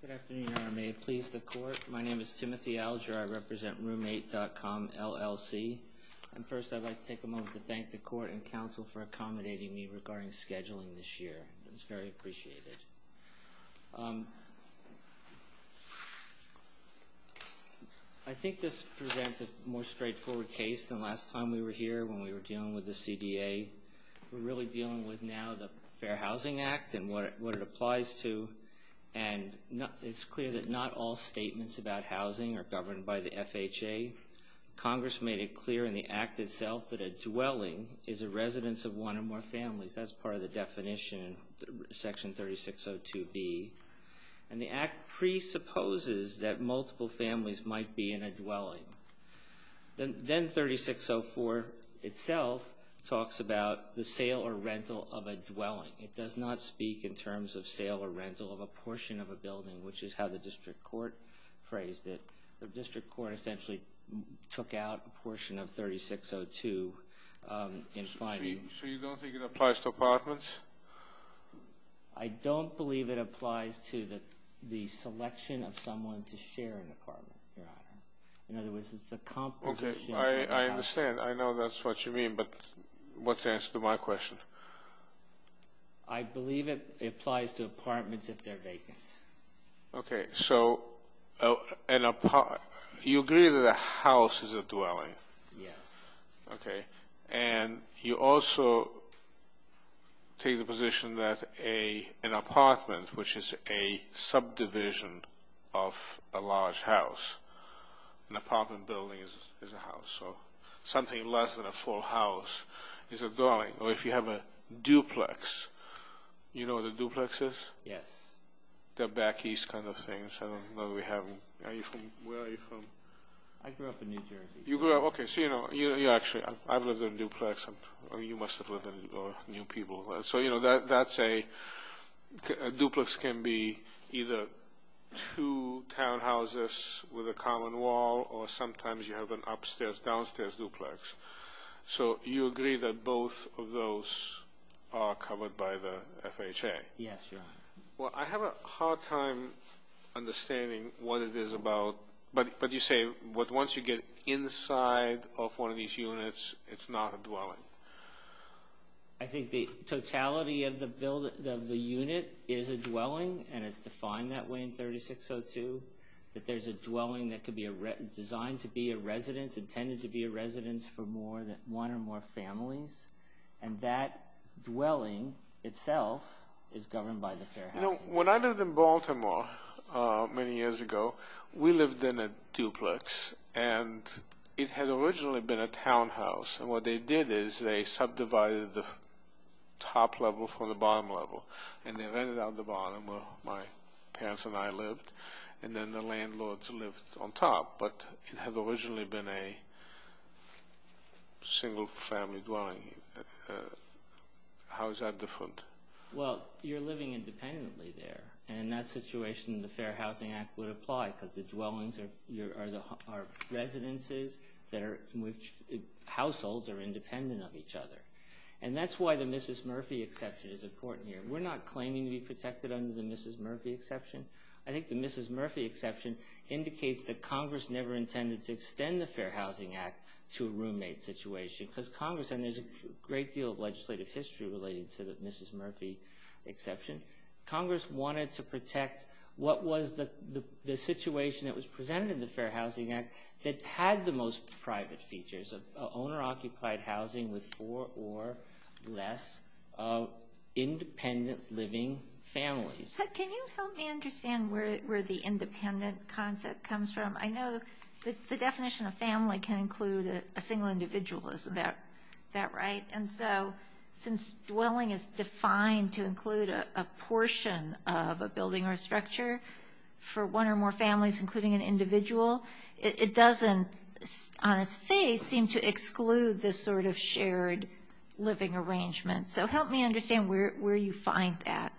Good afternoon. May it please the court. My name is Timothy Alger. I represent Roommate.com, LLC. And first I'd like to take a moment to thank the court and council for accommodating me regarding scheduling this year. It's very appreciated. I think this presents a more straightforward case than last time we were here when we were dealing with the CDA. We're really dealing with now the Fair Housing Act and what it applies to. And it's clear that not all statements about housing are governed by the FHA. Congress made it clear in the act itself that a dwelling is a residence of one or more families. That's part of the definition, Section 3602B. And the act presupposes that multiple families might be in a dwelling. Then 3604 itself talks about the sale or rental of a dwelling. It does not speak in terms of sale or rental of a portion of a building, which is how the district court phrased it. The district court essentially took out a portion of 3602. So you don't think it applies to apartments? I don't believe it applies to the selection of someone to share an apartment, Your Honor. In other words, it's the composition of an apartment. I understand. I know that's what you mean, but what's the answer to my question? I believe it applies to apartments if they're vacant. Okay, so you agree that a house is a dwelling? Yes. And you also take the position that an apartment, which is a subdivision of a large house, an apartment building is a house, so something less than a full house is a dwelling. Or if you have a duplex, you know what a duplex is? Yes. They're back east kind of things. Where are you from? I grew up in New Jersey. You grew up – okay, so you actually – I've lived in a duplex. You must have lived in – or new people. So, you know, that's a – a duplex can be either two townhouses with a common wall, or sometimes you have an upstairs-downstairs duplex. So you agree that both of those are covered by the FHA? Yes, Your Honor. Well, I have a hard time understanding what it is about – but you say once you get inside of one of these units, it's not a dwelling. I think the totality of the unit is a dwelling, and it's defined that way in 3602, that there's a dwelling that could be designed to be a residence, intended to be a residence for more than one or more families, and that dwelling itself is governed by the Fair Housing Act. You know, when I lived in Baltimore many years ago, we lived in a duplex, and it had originally been a townhouse. And what they did is they subdivided the top level from the bottom level, and they rented out the bottom where my parents and I lived, and then the landlords lived on top. But it had originally been a single-family dwelling. How is that different? Well, you're living independently there, and in that situation the Fair Housing Act would apply because the dwellings are residences in which households are independent of each other. And that's why the Mrs. Murphy exception is important here. We're not claiming to be protected under the Mrs. Murphy exception. I think the Mrs. Murphy exception indicates that Congress never intended to extend the Fair Housing Act to a roommate situation because Congress – Congress wanted to protect what was the situation that was presented in the Fair Housing Act that had the most private features of owner-occupied housing with four or less independent living families. Can you help me understand where the independent concept comes from? I know the definition of family can include a single individual. Is that right? Right. And so since dwelling is defined to include a portion of a building or a structure for one or more families, including an individual, it doesn't on its face seem to exclude this sort of shared living arrangement. So help me understand where you find that.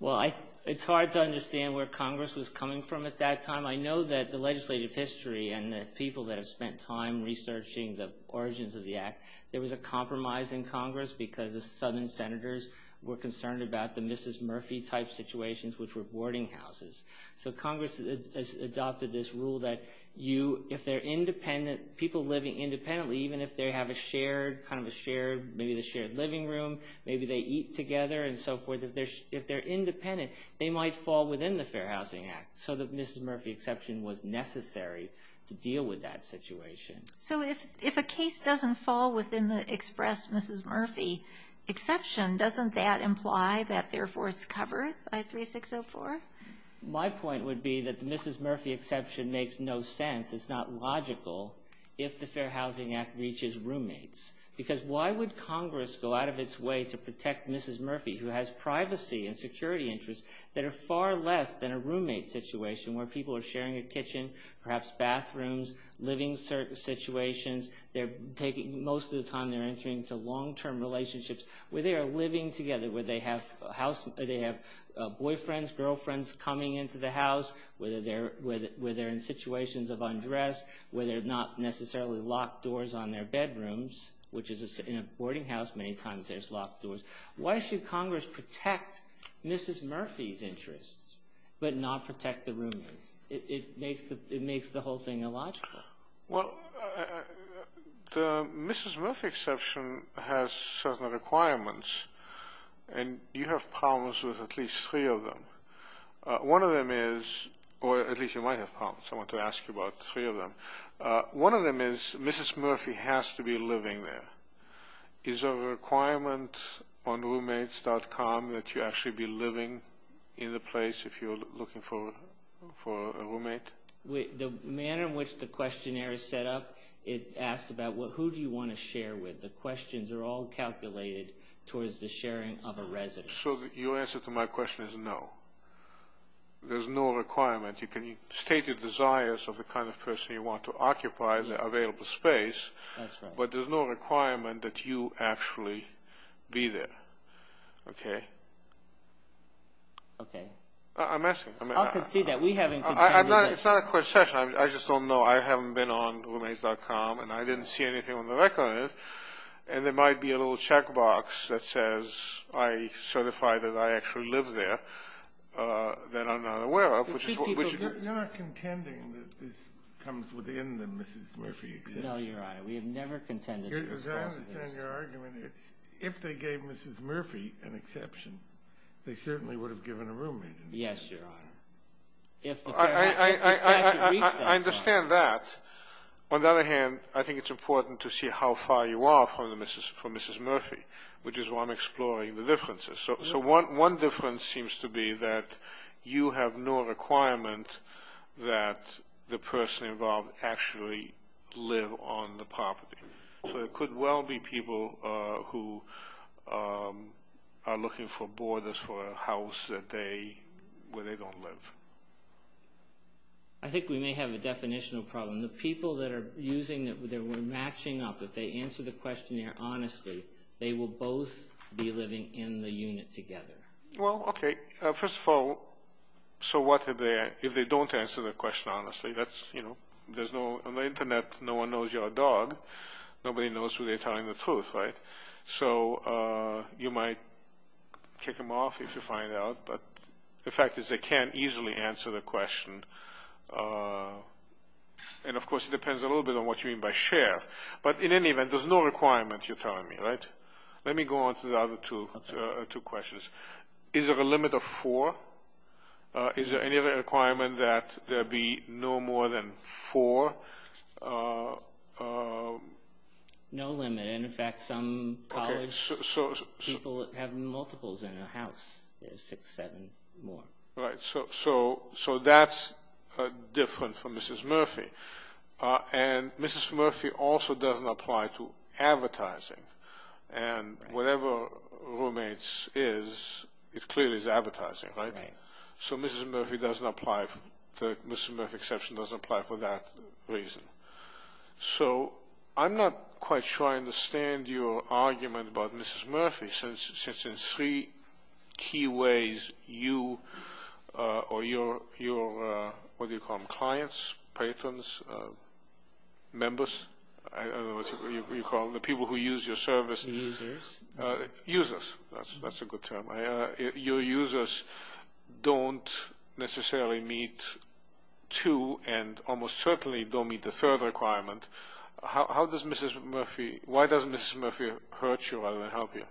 Well, it's hard to understand where Congress was coming from at that time. I know that the legislative history and the people that have spent time researching the origins of the Act, there was a compromise in Congress because the southern senators were concerned about the Mrs. Murphy-type situations, which were boarding houses. So Congress has adopted this rule that you – if they're independent – people living independently, even if they have a shared – kind of a shared – maybe the shared living room, maybe they eat together and so forth, if they're independent, they might fall within the Fair Housing Act. So the Mrs. Murphy exception was necessary to deal with that situation. So if a case doesn't fall within the express Mrs. Murphy exception, doesn't that imply that therefore it's covered by 3604? My point would be that the Mrs. Murphy exception makes no sense. It's not logical if the Fair Housing Act reaches roommates. Because why would Congress go out of its way to protect Mrs. Murphy, who has privacy and security interests that are far less than a roommate situation where people are sharing a kitchen, perhaps bathrooms, living situations. They're taking – most of the time they're entering into long-term relationships where they are living together, where they have a house – they have boyfriends, girlfriends coming into the house, where they're in situations of undress, where they're not necessarily locked doors on their bedrooms, which is – in a boarding house many times there's locked doors. Why should Congress protect Mrs. Murphy's interests but not protect the roommates? It makes the whole thing illogical. Well, the Mrs. Murphy exception has certain requirements, and you have problems with at least three of them. One of them is – or at least you might have problems. I want to ask you about three of them. One of them is Mrs. Murphy has to be living there. Is there a requirement on roommates.com that you actually be living in the place if you're looking for a roommate? The manner in which the questionnaire is set up, it asks about who do you want to share with. The questions are all calculated towards the sharing of a residence. So your answer to my question is no. There's no requirement. You can state your desires of the kind of person you want to occupy the available space, but there's no requirement that you actually be there. Okay? Okay. I'm asking. I can see that. We haven't contended with – It's not a court session. I just don't know. I haven't been on roommates.com, and I didn't see anything on the record. And there might be a little checkbox that says I certify that I actually live there that I'm not aware of, which is – You're not contending that this comes within the Mrs. Murphy exception. No, Your Honor. We have never contended with this. Because I understand your argument. If they gave Mrs. Murphy an exception, they certainly would have given a roommate. Yes, Your Honor. If the statute reached that point. I understand that. On the other hand, I think it's important to see how far you are from Mrs. Murphy, which is why I'm exploring the differences. So one difference seems to be that you have no requirement that the person involved actually live on the property. So it could well be people who are looking for borders for a house where they don't live. I think we may have a definitional problem. The people that were matching up, if they answer the questionnaire honestly, they will both be living in the unit together. Well, okay. First of all, so what if they don't answer the question honestly? On the Internet, no one knows you're a dog. Nobody knows who they're telling the truth, right? So you might kick them off if you find out. But the fact is they can't easily answer the question. And, of course, it depends a little bit on what you mean by share. But in any event, there's no requirement, you're telling me, right? Let me go on to the other two questions. Is there a limit of four? Is there any other requirement that there be no more than four? No limit. In fact, some college people have multiples in their house, six, seven more. Right. So that's different from Mrs. Murphy. And Mrs. Murphy also doesn't apply to advertising. And whatever roommates is, it clearly is advertising, right? So Mrs. Murphy doesn't apply. The Mrs. Murphy exception doesn't apply for that reason. So I'm not quite sure I understand your argument about Mrs. Murphy since in three key ways you or your, what do you call them, clients, patrons, members, I don't know what you call them, the people who use your service. Users. Users, that's a good term. Your users don't necessarily meet two and almost certainly don't meet the third requirement. How does Mrs. Murphy, why does Mrs. Murphy hurt you rather than help you?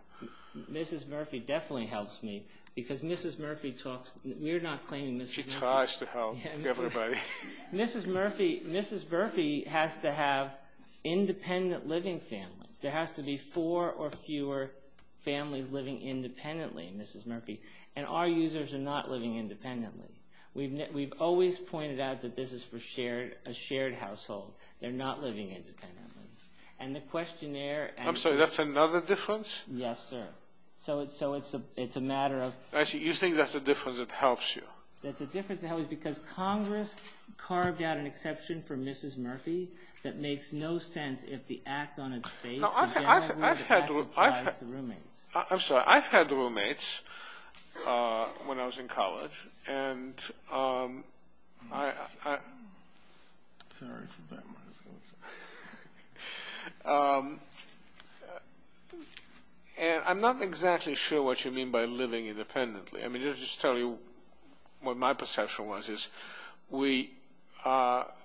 Mrs. Murphy definitely helps me because Mrs. Murphy talks, we're not claiming Mrs. Murphy. She tries to help everybody. Mrs. Murphy has to have independent living families. There has to be four or fewer families living independently in Mrs. Murphy. And our users are not living independently. We've always pointed out that this is for a shared household. They're not living independently. And the questionnaire and- I'm sorry, that's another difference? Yes, sir. So it's a matter of- I see. You think that's a difference that helps you. That's a difference that helps me because Congress carved out an exception for Mrs. Murphy that makes no sense if the act on its face- No, I've had roommates. I'm sorry. I've had roommates when I was in college. And I'm not exactly sure what you mean by living independently. Let me just tell you what my perception was.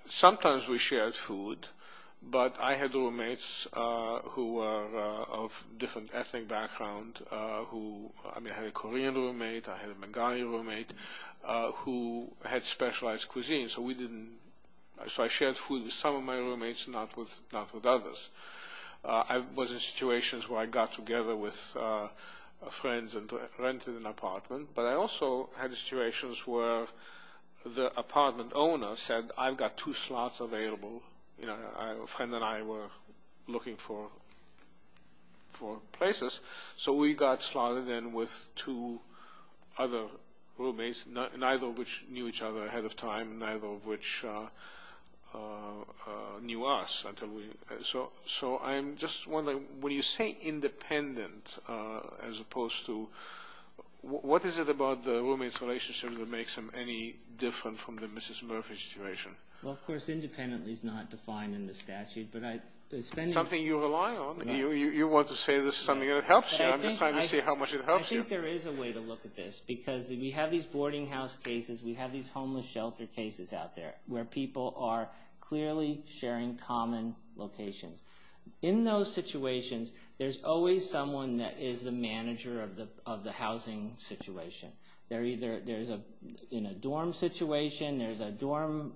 Sometimes we shared food, but I had roommates who were of different ethnic backgrounds. I had a Korean roommate. I had a Bengali roommate who had specialized cuisine. So I shared food with some of my roommates, not with others. I was in situations where I got together with friends and rented an apartment. But I also had situations where the apartment owner said, I've got two slots available. A friend and I were looking for places. So we got slotted in with two other roommates, neither of which knew each other ahead of time, neither of which knew us. So I'm just wondering, when you say independent as opposed to- what is it about the roommates' relationship that makes them any different from the Mrs. Murphy situation? Well, of course, independently is not defined in the statute. Something you rely on. You want to say this is something that helps you. I'm just trying to see how much it helps you. I think there is a way to look at this because we have these boarding house cases. We have these homeless shelter cases out there where people are clearly sharing common locations. In those situations, there's always someone that is the manager of the housing situation. They're either in a dorm situation. There's a dorm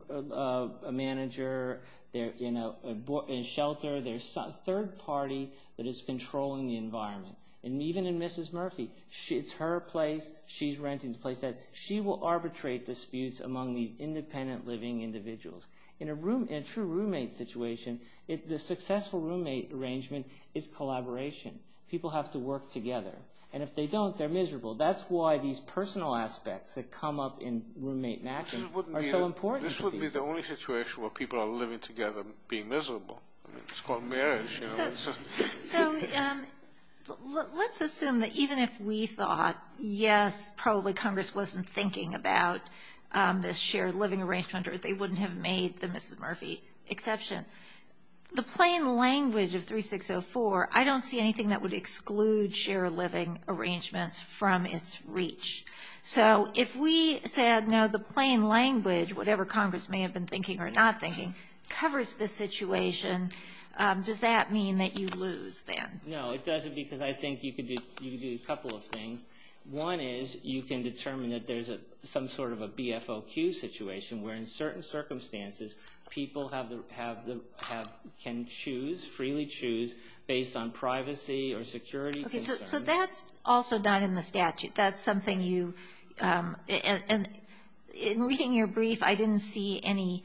manager. They're in a shelter. There's a third party that is controlling the environment. Even in Mrs. Murphy, it's her place. She's renting the place. She will arbitrate disputes among these independent living individuals. In a true roommate situation, the successful roommate arrangement is collaboration. People have to work together. And if they don't, they're miserable. That's why these personal aspects that come up in roommate matching are so important. This would be the only situation where people are living together being miserable. It's called marriage. So let's assume that even if we thought, yes, probably Congress wasn't thinking about this shared living arrangement or they wouldn't have made the Mrs. Murphy exception, the plain language of 3604, I don't see anything that would exclude shared living arrangements from its reach. So if we said, no, the plain language, whatever Congress may have been thinking or not thinking, covers this situation, does that mean that you lose then? No, it doesn't because I think you could do a couple of things. One is you can determine that there's some sort of a BFOQ situation where, in certain circumstances, people can freely choose based on privacy or security concerns. So that's also not in the statute. That's something you – in reading your brief, I didn't see any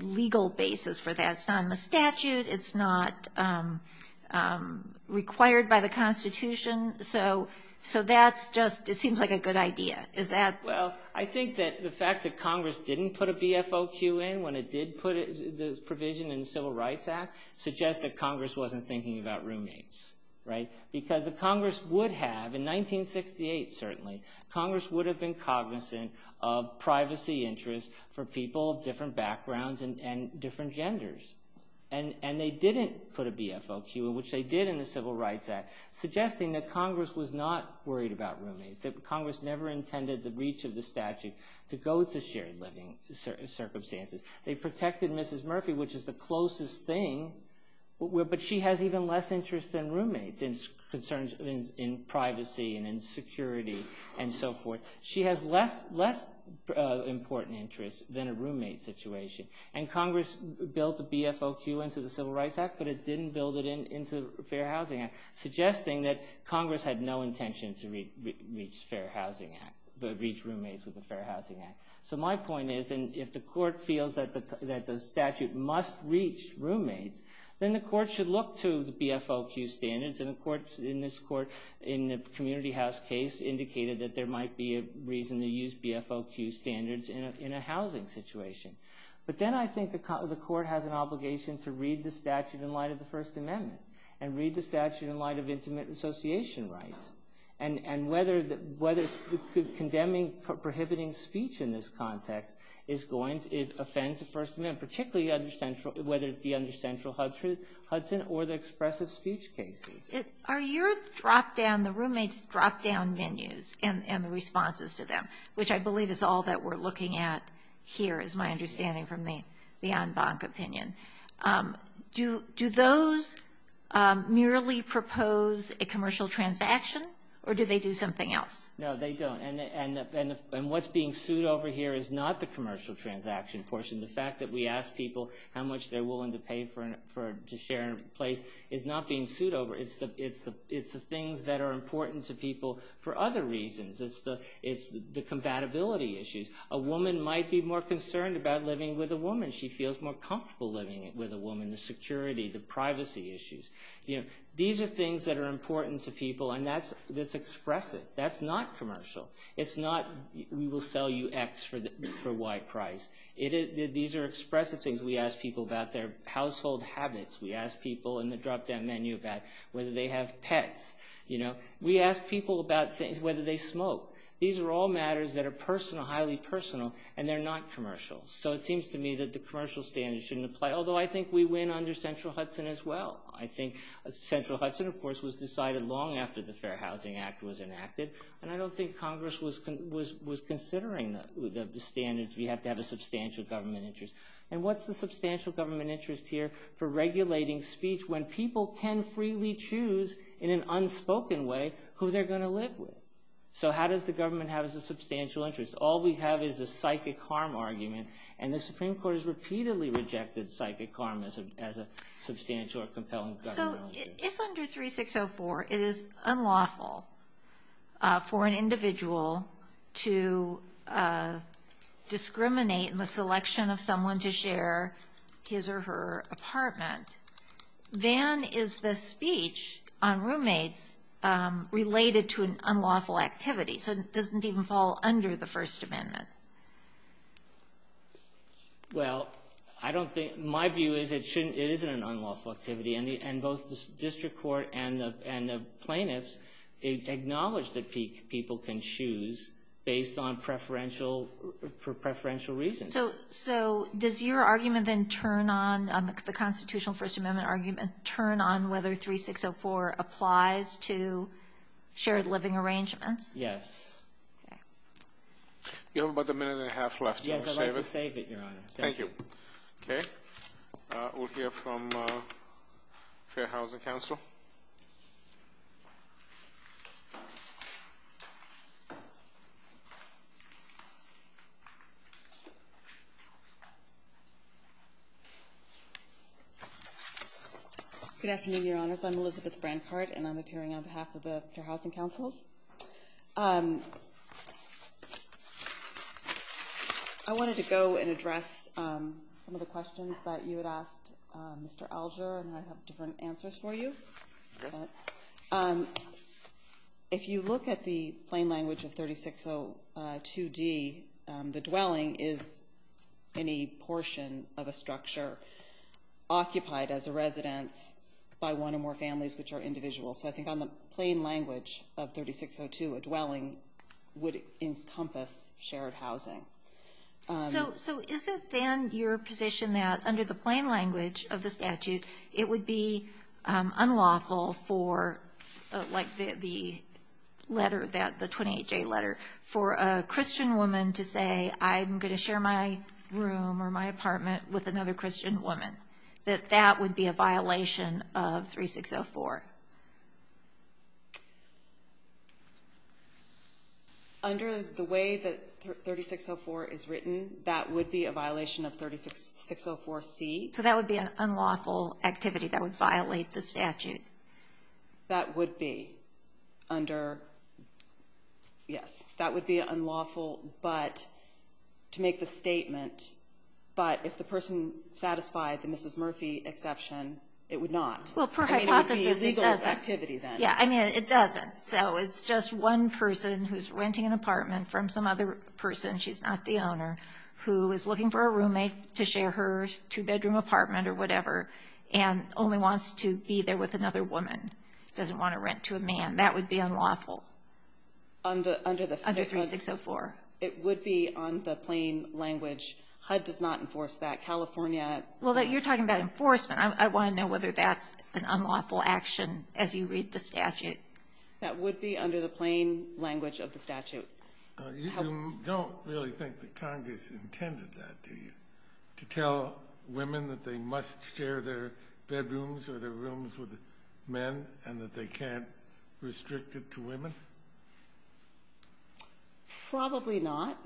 legal basis for that. It's not in the statute. It's not required by the Constitution. So that's just – it seems like a good idea. Is that – Well, I think that the fact that Congress didn't put a BFOQ in when it did put the provision in the Civil Rights Act suggests that Congress wasn't thinking about roommates, right? Because the Congress would have, in 1968 certainly, Congress would have been cognizant of privacy interests for people of different backgrounds and different genders. And they didn't put a BFOQ, which they did in the Civil Rights Act, suggesting that Congress was not worried about roommates, that Congress never intended the reach of the statute to go to shared living circumstances. They protected Mrs. Murphy, which is the closest thing, but she has even less interest than roommates in privacy and in security and so forth. She has less important interest than a roommate situation. And Congress built a BFOQ into the Civil Rights Act, but it didn't build it into the Fair Housing Act, suggesting that Congress had no intention to reach roommates with the Fair Housing Act. So my point is, if the court feels that the statute must reach roommates, then the court should look to the BFOQ standards, and the courts in this court in the community house case indicated that there might be a reason to use BFOQ standards in a housing situation. But then I think the court has an obligation to read the statute in light of the First Amendment and read the statute in light of intimate association rights. And whether condemning prohibiting speech in this context is going to offend the First Amendment, particularly whether it be under central Hudson or the expressive speech cases. Are your drop-down, the roommates' drop-down menus and the responses to them, which I believe is all that we're looking at here is my understanding from the en banc opinion, do those merely propose a commercial transaction, or do they do something else? No, they don't. And what's being sued over here is not the commercial transaction portion. The fact that we ask people how much they're willing to pay to share a place is not being sued over. It's the things that are important to people for other reasons. It's the compatibility issues. A woman might be more concerned about living with a woman. She feels more comfortable living with a woman. The security, the privacy issues. These are things that are important to people, and that's expressive. That's not commercial. It's not we will sell you X for Y price. These are expressive things. We ask people about their household habits. We ask people in the drop-down menu about whether they have pets. We ask people about whether they smoke. These are all matters that are highly personal, and they're not commercial. So it seems to me that the commercial standards shouldn't apply, although I think we win under Central Hudson as well. I think Central Hudson, of course, was decided long after the Fair Housing Act was enacted, and I don't think Congress was considering the standards. We have to have a substantial government interest. And what's the substantial government interest here for regulating speech when people can freely choose in an unspoken way who they're going to live with? So how does the government have a substantial interest? All we have is the psychic harm argument, and the Supreme Court has repeatedly rejected psychic harm as a substantial or compelling government interest. So if under 3604 it is unlawful for an individual to discriminate in the selection of someone to share his or her apartment, then is the speech on roommates related to an unlawful activity? So it doesn't even fall under the First Amendment. Well, my view is it isn't an unlawful activity, and both the district court and the plaintiffs acknowledge that people can choose based on preferential reasons. So does your argument then turn on, the constitutional First Amendment argument, turn on whether 3604 applies to shared living arrangements? Yes. You have about a minute and a half left. Yes, I'd like to save it, Your Honor. Thank you. Okay. We'll hear from Fair Housing Council. Good afternoon, Your Honors. I'm Elizabeth Brancard, and I'm appearing on behalf of the Fair Housing Councils. I wanted to go and address some of the questions that you had asked Mr. Alger, and I have different answers for you. If you look at the plain language of 3602D, the dwelling is any portion of a structure occupied as a residence by one or more families, which are individuals. So I think on the plain language of 3602, a dwelling would encompass shared housing. So is it then your position that under the plain language of the statute, it would be unlawful for, like the letter, the 28J letter, for a Christian woman to say, I'm going to share my room or my apartment with another Christian woman, that that would be a violation of 3604? Under the way that 3604 is written, that would be a violation of 3604C. So that would be an unlawful activity that would violate the statute. That would be under, yes, that would be unlawful, but to make the statement, but if the person satisfied the Mrs. Murphy exception, it would not. Well, per hypothesis, it doesn't. I mean, it would be as legal as activity then. Yeah, I mean, it doesn't. So it's just one person who's renting an apartment from some other person, she's not the owner, who is looking for a roommate to share her two-bedroom apartment or whatever, and only wants to be there with another woman, doesn't want to rent to a man. That would be unlawful under 3604. It would be on the plain language. HUD does not enforce that. California. Well, you're talking about enforcement. I want to know whether that's an unlawful action as you read the statute. That would be under the plain language of the statute. You don't really think that Congress intended that, do you, to tell women that they must share their bedrooms or their rooms with men and that they can't restrict it to women? Probably not.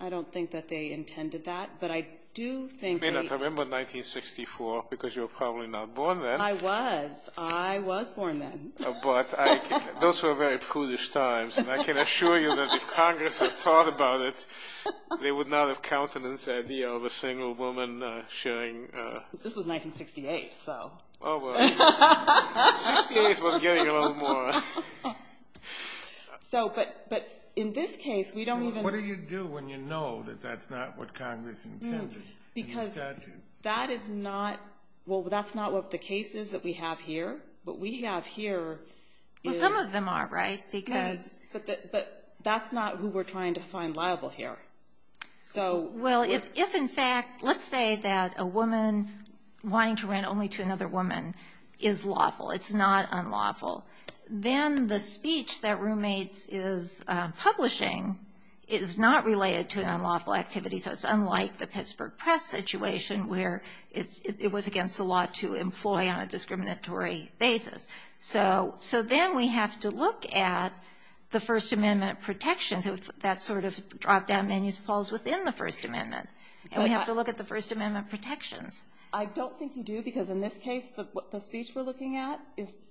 I don't think that they intended that, but I do think that You may not remember 1964 because you were probably not born then. I was. I was born then. But those were very prudish times, and I can assure you that if Congress had thought about it, they would not have counted this idea of a single woman sharing This was 1968, so. Oh, well. 1968 was getting a little more. But in this case, we don't even What do you do when you know that that's not what Congress intended in the statute? Because that is not what the case is that we have here. What we have here is Well, some of them are, right? But that's not who we're trying to find liable here. Well, if in fact, let's say that a woman wanting to rent only to another woman is lawful, it's not unlawful, then the speech that roommates is publishing is not related to an unlawful activity, so it's unlike the Pittsburgh Press situation where it was against the law to employ on a discriminatory basis. So then we have to look at the First Amendment protections. And so that sort of drop-down menu falls within the First Amendment, and we have to look at the First Amendment protections. I don't think you do because in this case, the speech we're looking at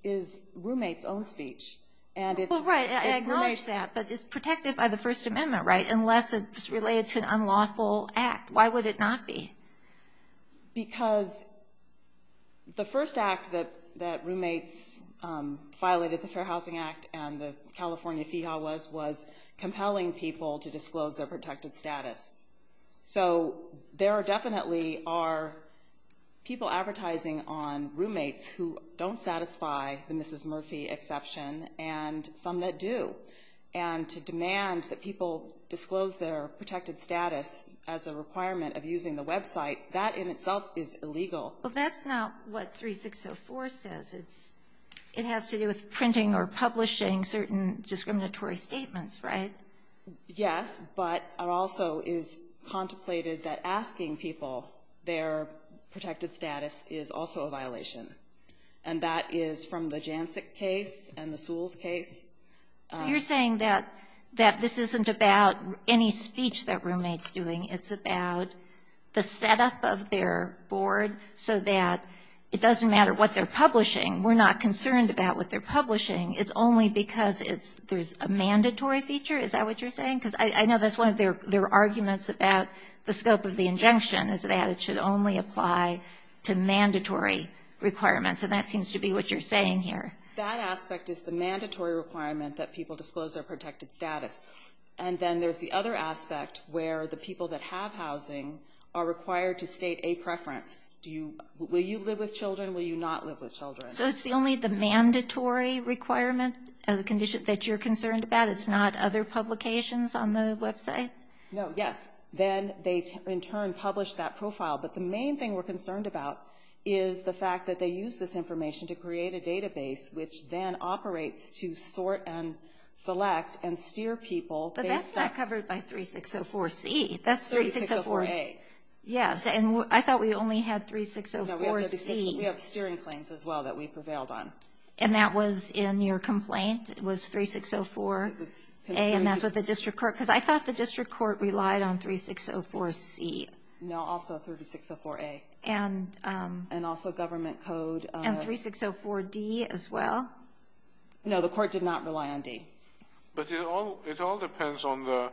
is roommates' own speech. Well, right, I acknowledge that, but it's protected by the First Amendment, right, unless it's related to an unlawful act. Why would it not be? Because the first act that roommates violated, the Fair Housing Act and the California FEHA was, was compelling people to disclose their protected status. So there definitely are people advertising on roommates who don't satisfy the Mrs. Murphy exception and some that do. And to demand that people disclose their protected status as a requirement of using the website, that in itself is illegal. Well, that's not what 3604 says. It has to do with printing or publishing certain discriminatory statements, right? Yes, but it also is contemplated that asking people their protected status is also a violation. And that is from the Jancic case and the Sewells case. So you're saying that this isn't about any speech that roommate's doing. It's about the setup of their board so that it doesn't matter what they're publishing, we're not concerned about what they're publishing. It's only because there's a mandatory feature. Is that what you're saying? Because I know that's one of their arguments about the scope of the injunction is that it should only apply to mandatory requirements, and that seems to be what you're saying here. That aspect is the mandatory requirement that people disclose their protected status. And then there's the other aspect where the people that have housing are required to state a preference. Will you live with children, will you not live with children? So it's only the mandatory requirement that you're concerned about? It's not other publications on the website? No, yes. Then they, in turn, publish that profile. But the main thing we're concerned about is the fact that they use this information to create a database which then operates to sort and select and steer people. But that's not covered by 3604C. That's 3604A. Yes, and I thought we only had 3604C. We have steering claims as well that we prevailed on. And that was in your complaint? It was 3604A, and that's with the district court? Because I thought the district court relied on 3604C. No, also 3604A. And also government code. And 3604D as well? No, the court did not rely on D. But it all depends on the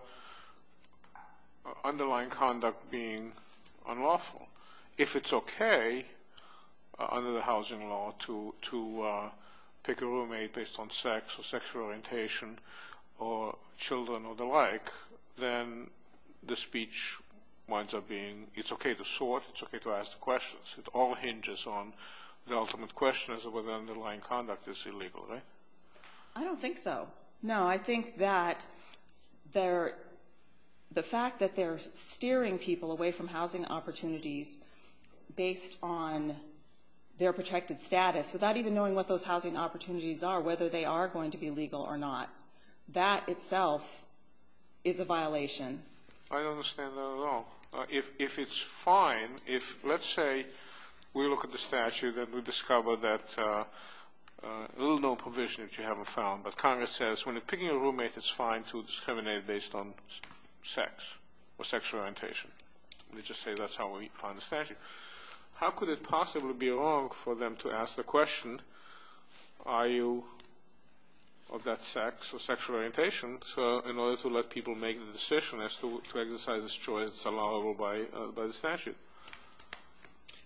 underlying conduct being unlawful. If it's okay under the housing law to pick a roommate based on sex or sexual orientation or children or the like, then the speech winds up being it's okay to sort, it's okay to ask questions. It all hinges on the ultimate question as to whether the underlying conduct is illegal, right? I don't think so. No, I think that the fact that they're steering people away from housing opportunities based on their protected status, without even knowing what those housing opportunities are, whether they are going to be legal or not, that itself is a violation. I don't understand that at all. If it's fine, if let's say we look at the statute and we discover that a little known provision that you haven't found, but Congress says when you're picking a roommate, it's fine to discriminate based on sex or sexual orientation. They just say that's how we find the statute. How could it possibly be wrong for them to ask the question, are you of that sex or sexual orientation, in order to let people make the decision as to exercise this choice allowable by the statute?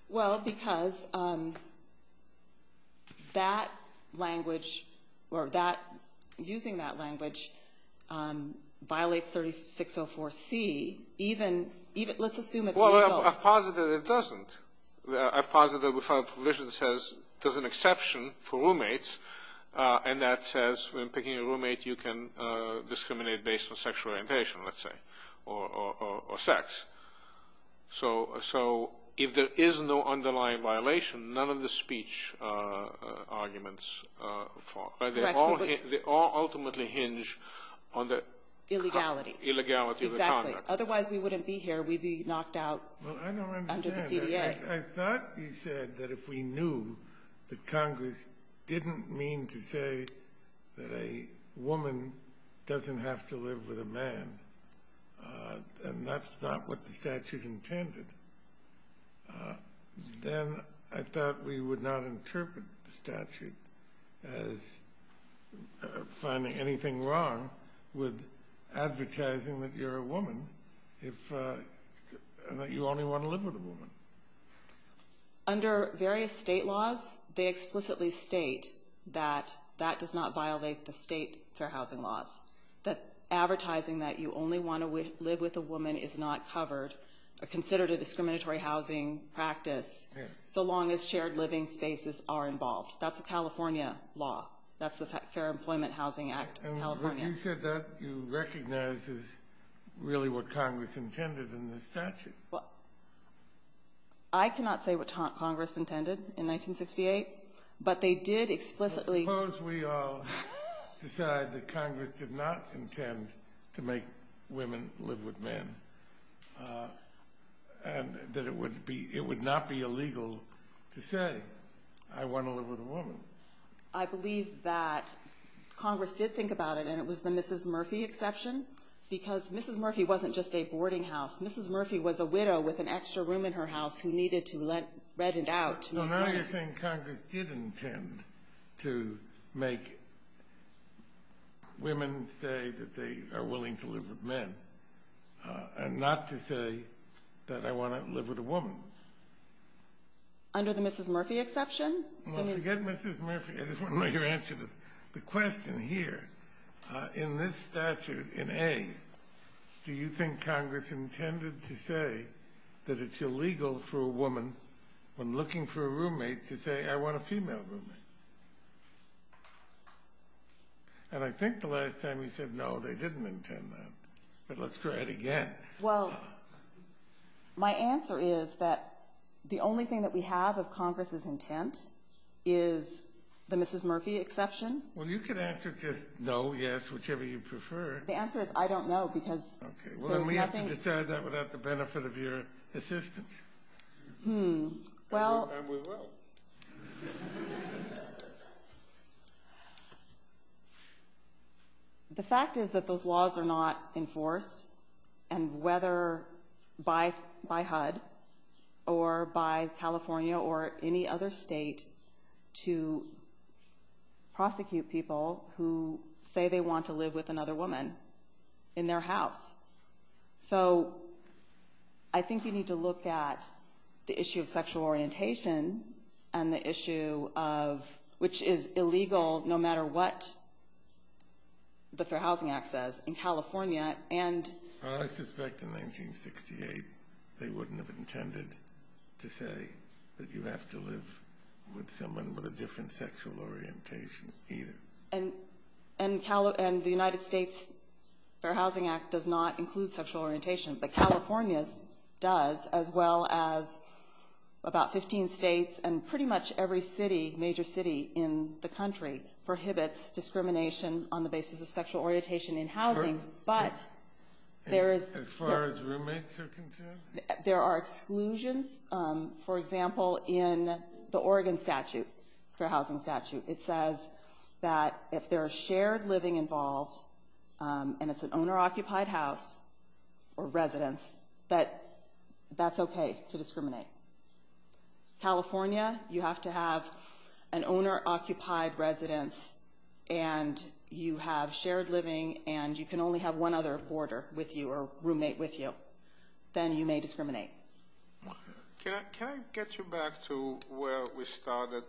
Well, because that language or using that language violates 3604C. Let's assume it's illegal. Well, I've posited it doesn't. I've posited that our provision says there's an exception for roommates, and that says when picking a roommate, you can discriminate based on sexual orientation, let's say, or sex. So if there is no underlying violation, none of the speech arguments fall. They all ultimately hinge on the illegality of the conduct. Exactly. Otherwise, we wouldn't be here. We'd be knocked out under the CDA. I thought you said that if we knew that Congress didn't mean to say that a woman doesn't have to live with a man, and that's not what the statute intended, then I thought we would not interpret the statute as finding anything wrong with advertising that you're a woman, and that you only want to live with a woman. Under various state laws, they explicitly state that that does not violate the state fair housing laws, that advertising that you only want to live with a woman is not covered or considered a discriminatory housing practice, so long as shared living spaces are involved. That's a California law. That's the Fair Employment Housing Act of California. You said that you recognize is really what Congress intended in the statute. Well, I cannot say what Congress intended in 1968, but they did explicitly... I suppose we all decide that Congress did not intend to make women live with men, and that it would not be illegal to say, I want to live with a woman. I believe that Congress did think about it, and it was the Mrs. Murphy exception, because Mrs. Murphy wasn't just a boarding house. Mrs. Murphy was a widow with an extra room in her house who needed to rent it out. So now you're saying Congress did intend to make women say that they are willing to live with men and not to say that I want to live with a woman. Under the Mrs. Murphy exception? Well, forget Mrs. Murphy. I just want to know your answer to the question here. In this statute, in A, do you think Congress intended to say that it's illegal for a woman, when looking for a roommate, to say, I want a female roommate? And I think the last time you said no, they didn't intend that. But let's try it again. Well, my answer is that the only thing that we have of Congress's intent is the Mrs. Murphy exception. Well, you can answer just no, yes, whichever you prefer. The answer is I don't know, because there's nothing – Okay, well, then we have to decide that without the benefit of your assistance. And we will. The fact is that those laws are not enforced, and whether by HUD or by California or any other state to prosecute people who say they want to live with another woman in their house. So I think you need to look at the issue of sexual orientation and the issue of – which is illegal no matter what the Fair Housing Act says. In California, and – I suspect in 1968 they wouldn't have intended to say that you have to live with someone with a different sexual orientation either. And the United States Fair Housing Act does not include sexual orientation. But California does, as well as about 15 states and pretty much every city, major city in the country, prohibits discrimination on the basis of sexual orientation in housing. But there is – As far as roommates are concerned? There are exclusions. For example, in the Oregon statute, Fair Housing statute, it says that if there is shared living involved and it's an owner-occupied house or residence, that that's okay to discriminate. California, you have to have an owner-occupied residence and you have shared living and you can only have one other hoarder with you or roommate with you. Then you may discriminate. Can I get you back to where we started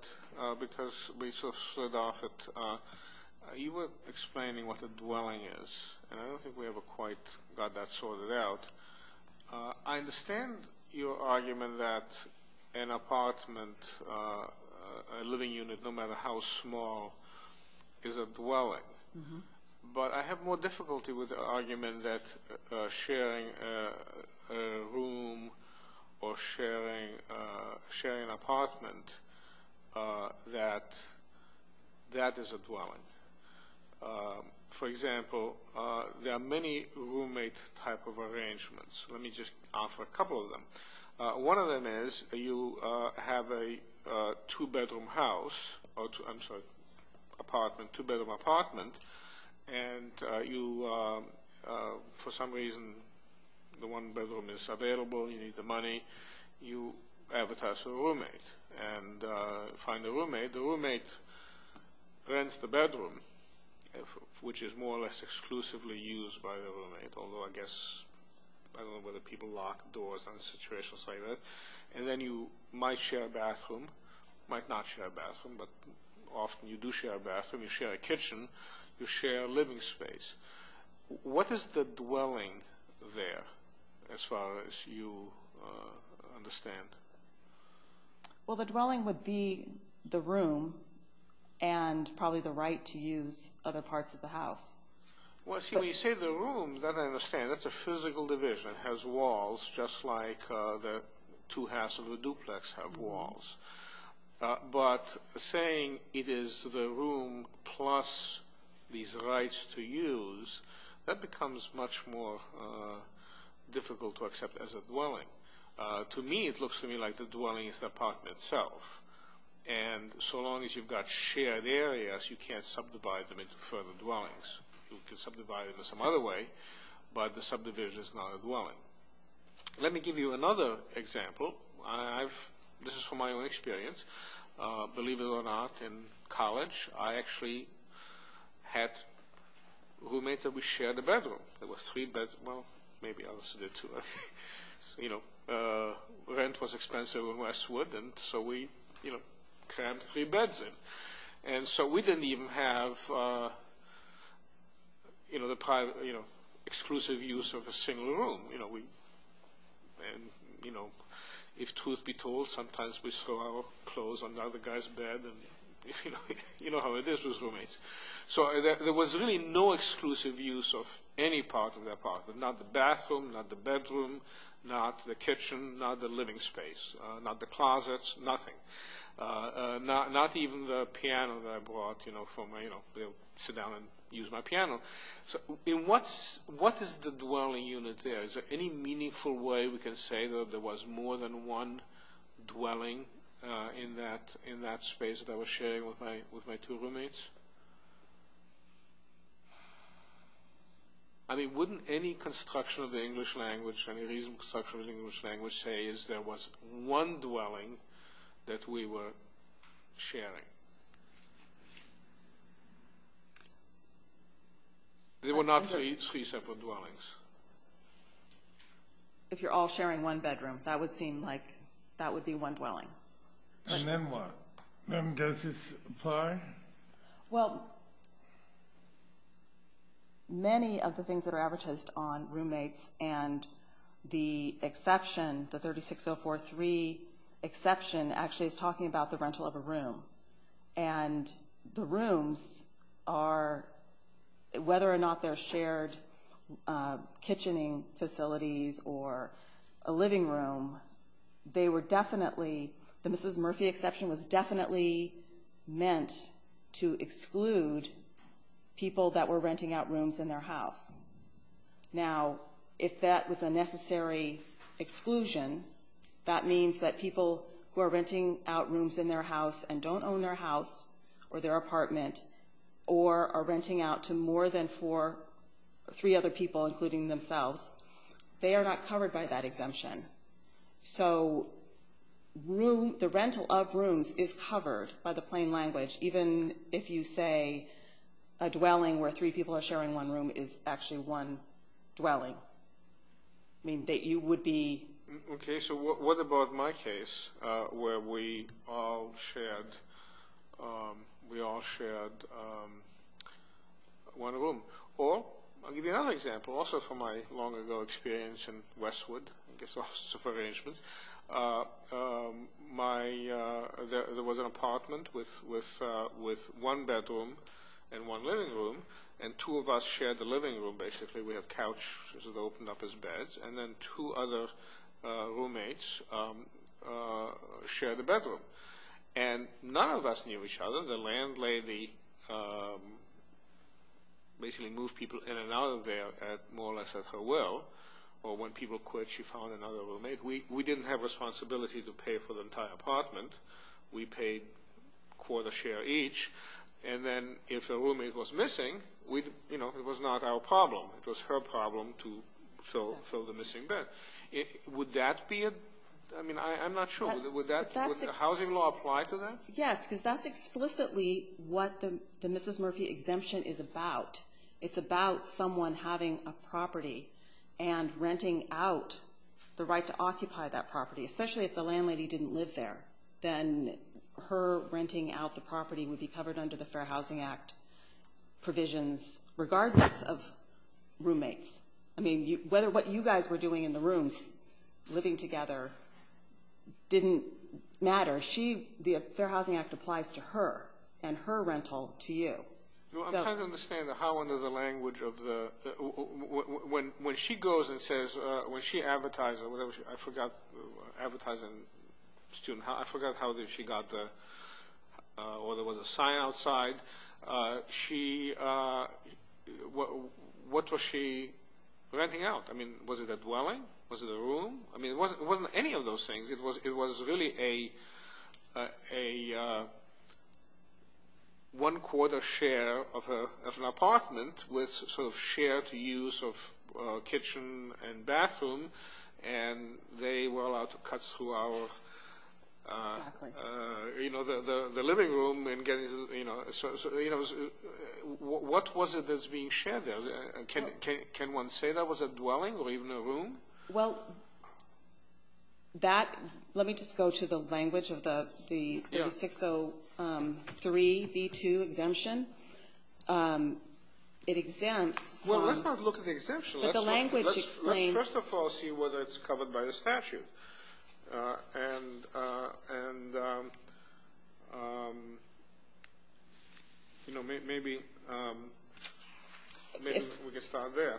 because we sort of slid off it? You were explaining what a dwelling is, and I don't think we ever quite got that sorted out. I understand your argument that an apartment, a living unit, no matter how small, is a dwelling. But I have more difficulty with the argument that sharing a room or sharing an apartment, that that is a dwelling. For example, there are many roommate type of arrangements. Let me just offer a couple of them. One of them is you have a two-bedroom house, I'm sorry, apartment, two-bedroom apartment, and you, for some reason, the one bedroom is available, you need the money, you advertise a roommate and find a roommate. The roommate rents the bedroom, which is more or less exclusively used by the roommate, although I guess, I don't know whether people lock doors in situations like that. And then you might share a bathroom, might not share a bathroom, but often you do share a bathroom, you share a kitchen, you share a living space. What is the dwelling there, as far as you understand? Well, the dwelling would be the room and probably the right to use other parts of the house. Well, see, when you say the room, that I understand. That's a physical division. It has walls just like the two halves of a duplex have walls. But saying it is the room plus these rights to use, that becomes much more difficult to accept as a dwelling. To me, it looks to me like the dwelling is the apartment itself. And so long as you've got shared areas, you can't subdivide them into further dwellings. You can subdivide them some other way, but the subdivision is not a dwelling. Let me give you another example. This is from my own experience. Believe it or not, in college, I actually had roommates that we shared a bedroom. There were three bedrooms, well, maybe I was there too. Rent was expensive in Westwood, and so we crammed three beds in. And so we didn't even have the exclusive use of a single room. And if truth be told, sometimes we throw our clothes on the other guy's bed. You know how it is with roommates. So there was really no exclusive use of any part of the apartment. Not the bathroom, not the bedroom, not the kitchen, not the living space, not the closets, nothing. Not even the piano that I brought, you know, sit down and use my piano. So what is the dwelling unit there? Is there any meaningful way we can say that there was more than one dwelling in that space that I was sharing with my two roommates? I mean, wouldn't any construction of the English language, any reasonable construction of the English language say is there was one dwelling that we were sharing? There were not three separate dwellings. If you're all sharing one bedroom, that would seem like that would be one dwelling. And then what? Then does this apply? Well, many of the things that are advertised on roommates and the exception, the 36043 exception actually is talking about the rental of a room. And the rooms are, whether or not they're shared kitchening facilities or a living room, they were definitely, the Mrs. Murphy exception was definitely meant to exclude people that were renting out rooms in their house. Now, if that was a necessary exclusion, that means that people who are renting out rooms in their house and don't own their house or their apartment or are renting out to more than four or three other people, including themselves, they are not covered by that exemption. So the rental of rooms is covered by the plain language, even if you say a dwelling where three people are sharing one room is actually one dwelling. I mean, you would be... Okay, so what about my case where we all shared one room? Or I'll give you another example. Also from my long ago experience in Westwood, I guess Office of Arrangements, there was an apartment with one bedroom and one living room, and two of us shared the living room basically. We had couches that opened up as beds, and then two other roommates shared the bedroom. And none of us knew each other. The landlady basically moved people in and out of there more or less at her will. Or when people quit, she found another roommate. We didn't have responsibility to pay for the entire apartment. We paid quarter share each. And then if a roommate was missing, it was not our problem. It was her problem to fill the missing bed. Would that be a... I mean, I'm not sure. Would the housing law apply to that? Yes, because that's explicitly what the Mrs. Murphy exemption is about. It's about someone having a property and renting out the right to occupy that property, especially if the landlady didn't live there. Then her renting out the property would be covered under the Fair Housing Act provisions, regardless of roommates. I mean, what you guys were doing in the rooms, living together, didn't matter. The Fair Housing Act applies to her and her rental to you. I'm trying to understand how under the language of the... When she goes and says... When she advertised, I forgot, advertising student, I forgot how she got the... Well, there was a sign outside. What was she renting out? I mean, was it a dwelling? Was it a room? I mean, it wasn't any of those things. It was really a one-quarter share of an apartment with sort of shared use of kitchen and bathroom, and they were allowed to cut through our living room. What was it that's being shared there? Can one say that was a dwelling or even a room? Well, that... Let me just go to the language of the 603B2 exemption. It exempts from... Well, let's not look at the exemption. But the language explains... Let's first of all see whether it's covered by the statute. And, you know, maybe we can start there.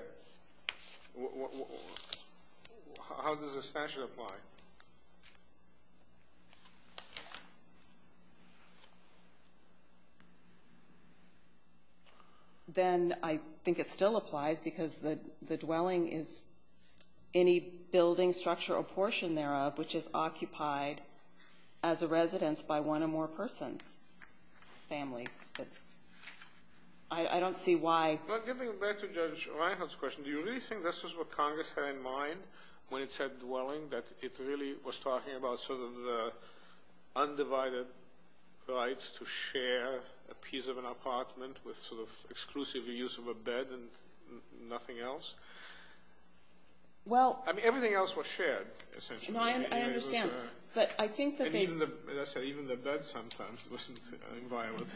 How does the statute apply? Then I think it still applies because the dwelling is... which is occupied as a residence by one or more persons, families. I don't see why... Well, getting back to Judge Reinhart's question, do you really think this is what Congress had in mind when it said dwelling, that it really was talking about sort of the undivided right to share a piece of an apartment with sort of exclusive use of a bed and nothing else? Well... I mean, everything else was shared, essentially. No, I understand. But I think that they... As I said, even the bed sometimes wasn't inviolate.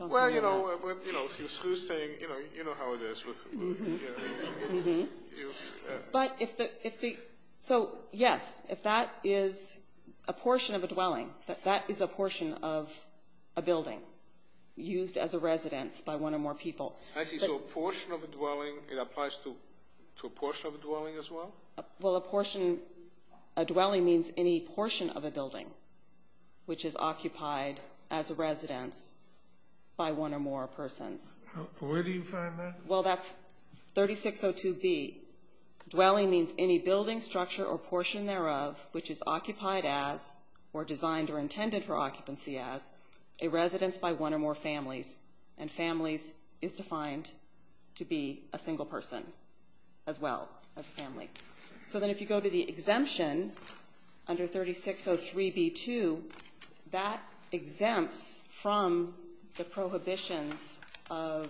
Well, you know, if you're through staying, you know how it is with... But if the... So, yes, if that is a portion of a dwelling, that is a portion of a building used as a residence by one or more people. I see. So a portion of a dwelling, it applies to a portion of a dwelling as well? Well, a portion... A dwelling means any portion of a building which is occupied as a residence by one or more persons. Where do you find that? Well, that's 3602B. Dwelling means any building structure or portion thereof which is occupied as or designed or intended for occupancy as a residence by one or more families. And families is defined to be a single person as well as a family. So then if you go to the exemption under 3603B.2, that exempts from the prohibitions of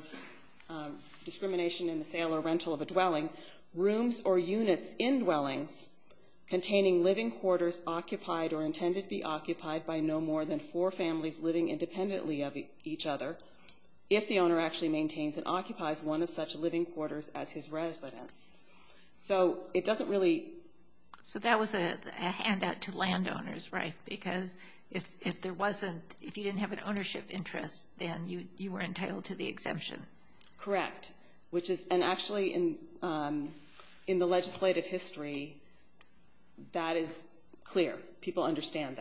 discrimination in the sale or rental of a dwelling, rooms or units in dwellings containing living quarters occupied or intended to be occupied by no more than four families living independently of each other, if the owner actually maintains and occupies one of such living quarters as his residence. So it doesn't really... So that was a handout to landowners, right? Because if there wasn't, if you didn't have an ownership interest, then you were entitled to the exemption. Correct. And actually in the legislative history, that is clear. People understand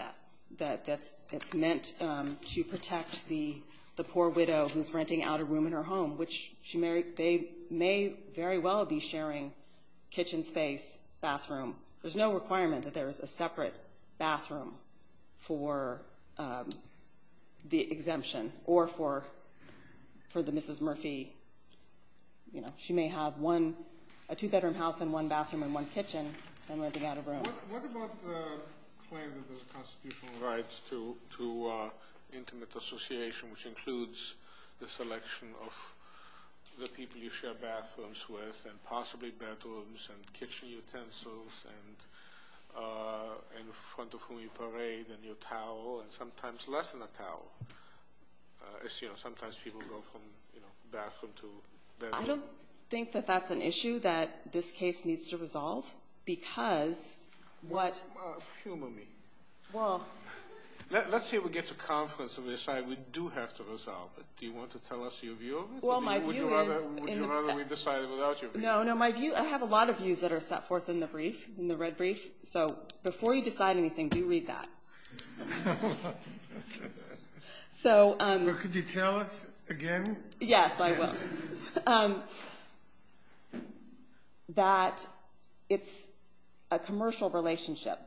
that. It's meant to protect the poor widow who's renting out a room in her home, which they may very well be sharing kitchen space, bathroom. There's no requirement that there is a separate bathroom for the exemption or for the Mrs. Murphy. She may have a two-bedroom house and one bathroom and one kitchen and renting out a room. What about the claim that there's constitutional rights to intimate association, which includes the selection of the people you share bathrooms with and possibly bedrooms and kitchen utensils and in front of whom you parade and your towel and sometimes less than a towel. As you know, sometimes people go from, you know, bathroom to bedroom. I don't think that that's an issue that this case needs to resolve because what... Humor me. Well... Let's say we get to conference and we decide we do have to resolve it. Do you want to tell us your view of it? Well, my view is... Would you rather we decide it without your view? No, no. My view, I have a lot of views that are set forth in the brief, in the red brief. So before you decide anything, do read that. So... Could you tell us again? Yes, I will. That it's a commercial relationship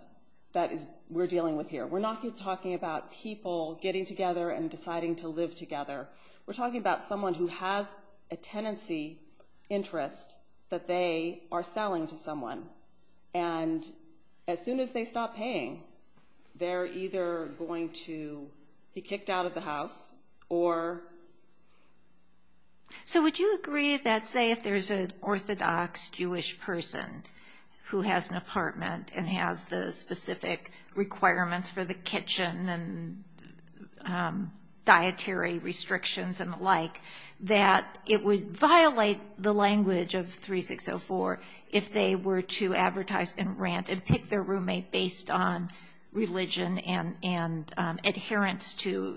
that we're dealing with here. We're not talking about people getting together and deciding to live together. We're talking about someone who has a tenancy interest that they are selling to someone, and as soon as they stop paying, they're either going to be kicked out of the house or... So would you agree that, say, if there's an Orthodox Jewish person who has an apartment and has the specific requirements for the kitchen and dietary restrictions and the like, that it would violate the language of 3604 if they were to advertise and rant and pick their roommate based on religion and adherence to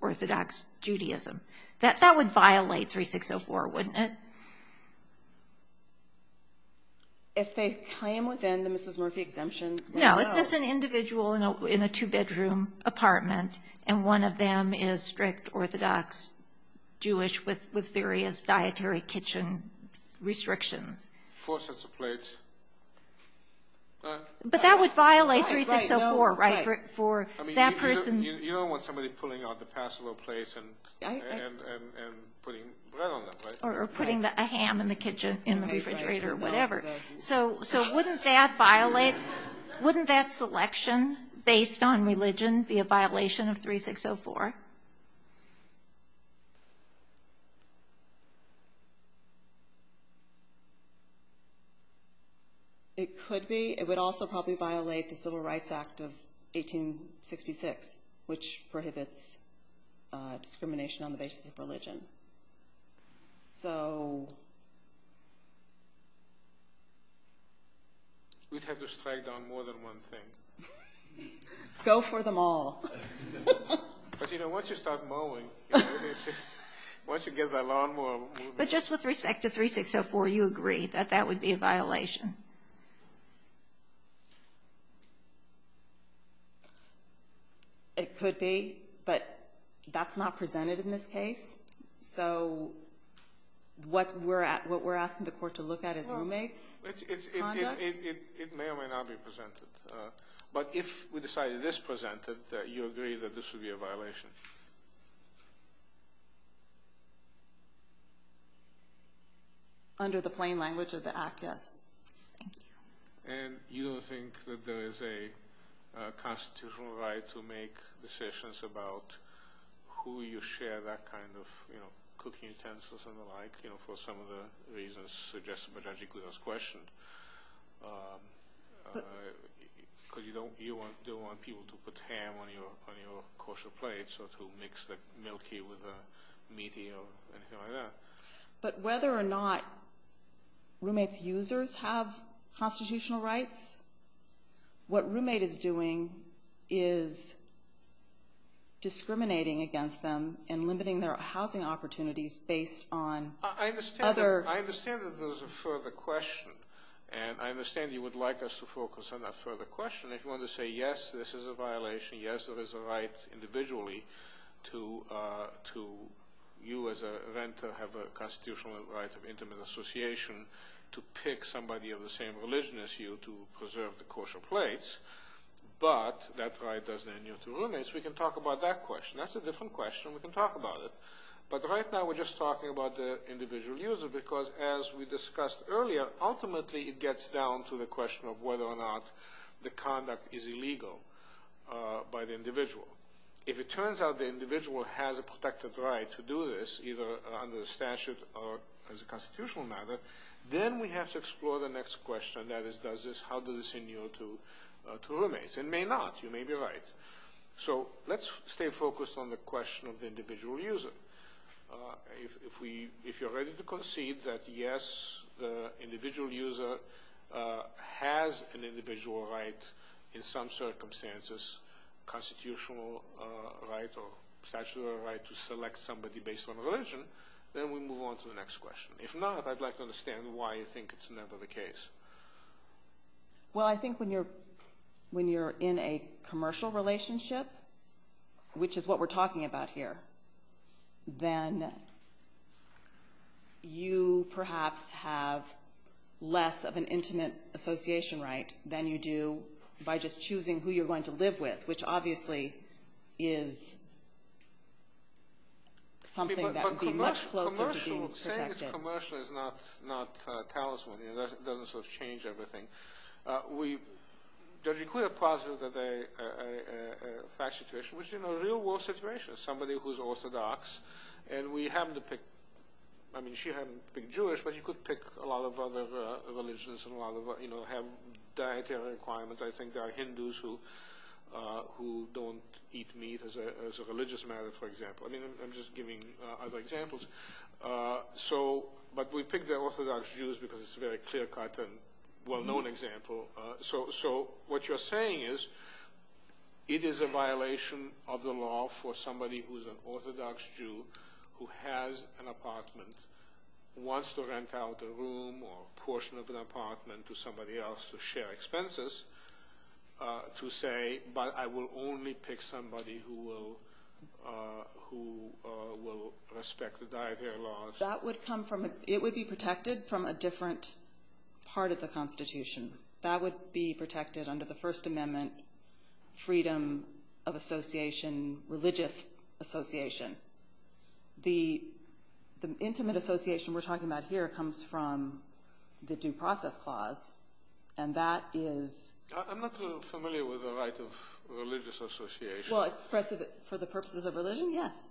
Orthodox Judaism? That would violate 3604, wouldn't it? If they claim within the Mrs. Murphy exemption... No, it's just an individual in a two-bedroom apartment, and one of them is strict Orthodox Jewish with various dietary kitchen restrictions. Four sets of plates. But that would violate 3604, right, for that person... You don't want somebody pulling out the passable plates and putting bread on them, right? Or putting a ham in the refrigerator or whatever. So wouldn't that selection based on religion be a violation of 3604? It could be. It would also probably violate the Civil Rights Act of 1866, which prohibits discrimination on the basis of religion. So... We'd have to strike down more than one thing. Go for them all. But, you know, once you start mulling, once you get that lawnmower moving... But just with respect to 3604, you agree that that would be a violation? It could be, but that's not presented in this case. So what we're asking the court to look at is roommate's conduct. It may or may not be presented. But if we decide it is presented, you agree that this would be a violation? Under the plain language of the Act, yes. Thank you. And you don't think that there is a constitutional right to make decisions about who you share that kind of, you know, cooking intents or something like, you know, for some of the reasons suggested by Judge Iguoda's question? Because you don't want people to put ham on your kosher plates or to mix the milky with the meaty or anything like that. But whether or not roommate's users have constitutional rights, what roommate is doing is discriminating against them and limiting their housing opportunities based on other... I understand that there's a further question, and I understand you would like us to focus on that further question. If you want to say, yes, this is a violation, yes, there is a right individually to you as a renter have a constitutional right of intimate association to pick somebody of the same religion as you to preserve the kosher plates, but that right doesn't adhere to roommates, we can talk about that question. That's a different question. We can talk about it. But right now we're just talking about the individual user because as we discussed earlier, ultimately it gets down to the question of whether or not the conduct is illegal by the individual. If it turns out the individual has a protected right to do this, either under the statute or as a constitutional matter, then we have to explore the next question, and that is how does this adhere to roommates. It may not. You may be right. So let's stay focused on the question of the individual user. If you're ready to concede that, yes, the individual user has an individual right in some circumstances, constitutional right or statutory right to select somebody based on religion, then we move on to the next question. If not, I'd like to understand why you think it's never the case. Well, I think when you're in a commercial relationship, which is what we're talking about here, then you perhaps have less of an intimate association right than you do by just choosing who you're going to live with, which obviously is something that would be much closer to being protected. But commercial, saying it's commercial is not talisman. It doesn't sort of change everything. We could have posited that a fact situation, which in a real world situation, somebody who's orthodox, and we happen to pick, I mean she happened to pick Jewish, but you could pick a lot of other religions and have dietary requirements. I think there are Hindus who don't eat meat as a religious matter, for example. I'm just giving other examples. But we picked the orthodox Jews because it's a very clear-cut and well-known example. So what you're saying is it is a violation of the law for somebody who's an orthodox Jew who has an apartment, wants to rent out a room or a portion of an apartment to somebody else to share expenses to say, but I will only pick somebody who will respect the dietary laws. It would be protected from a different part of the Constitution. That would be protected under the First Amendment freedom of association, religious association. The intimate association we're talking about here comes from the Due Process Clause, and that is— I'm not familiar with the right of religious association. Well, for the purposes of religion, yes.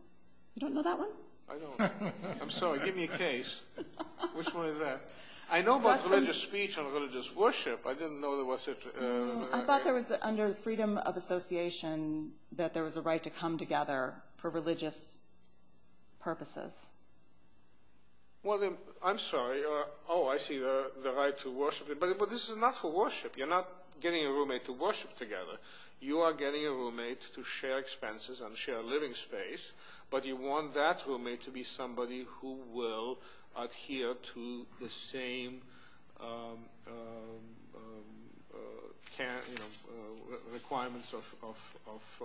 You don't know that one? I don't. I'm sorry. Give me a case. Which one is that? I know about religious speech and religious worship. I didn't know there was a— I thought there was, under freedom of association, that there was a right to come together for religious purposes. Well, I'm sorry. Oh, I see the right to worship. But this is not for worship. You're not getting a roommate to worship together. You are getting a roommate to share expenses and share a living space, but you want that roommate to be somebody who will adhere to the same requirements of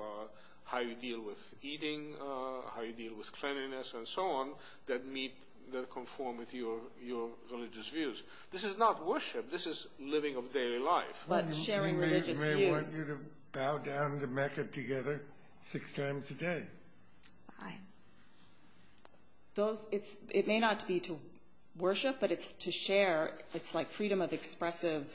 how you deal with eating, how you deal with cleanliness, and so on, that conform with your religious views. This is not worship. This is living of daily life. But sharing religious views. I may want you to bow down to Mecca together six times a day. Fine. It may not be to worship, but it's to share. It's like freedom of expressive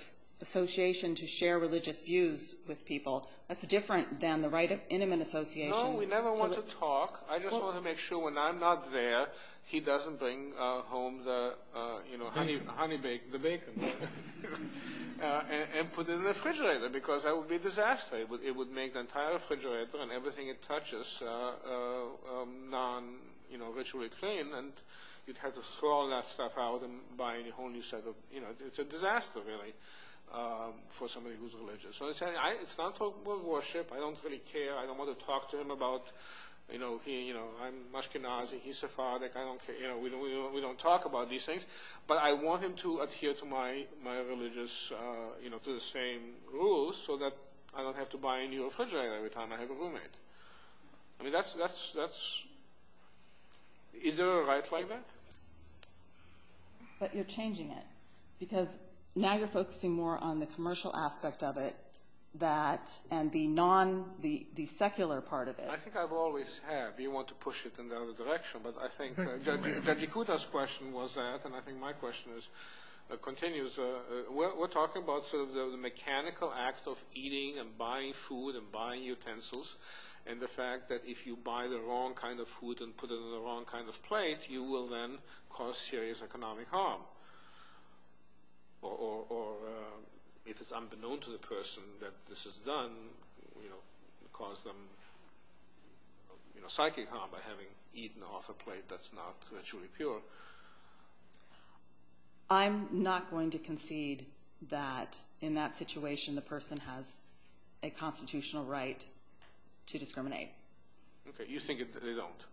association to share religious views with people. That's different than the right of intimate association to— No, we never want to talk. I just want to make sure when I'm not there, he doesn't bring home the, you know, honey bacon, the bacon, and put it in the refrigerator, because that would be a disaster. It would make the entire refrigerator and everything it touches non-ritually clean, and you'd have to throw all that stuff out and buy a whole new set of— you know, it's a disaster, really, for somebody who's religious. So it's not for worship. I don't really care. I don't want to talk to him about, you know, I'm Mushkinazi, he's Sephardic. I don't care. We don't talk about these things. But I want him to adhere to my religious, you know, to the same rules, so that I don't have to buy a new refrigerator every time I have a roommate. I mean, that's—is there a right like that? But you're changing it, because now you're focusing more on the commercial aspect of it, that—and the non—the secular part of it. I think I've always have. You want to push it in the other direction. But I think that Dakota's question was that, and I think my question continues. We're talking about sort of the mechanical act of eating and buying food and buying utensils, and the fact that if you buy the wrong kind of food and put it on the wrong kind of plate, you will then cause serious economic harm. Or if it's unbeknown to the person that this is done, you know, and cause them, you know, psychic harm by having eaten off a plate that's not virtually pure. I'm not going to concede that in that situation the person has a constitutional right to discriminate. Okay. You think that they don't.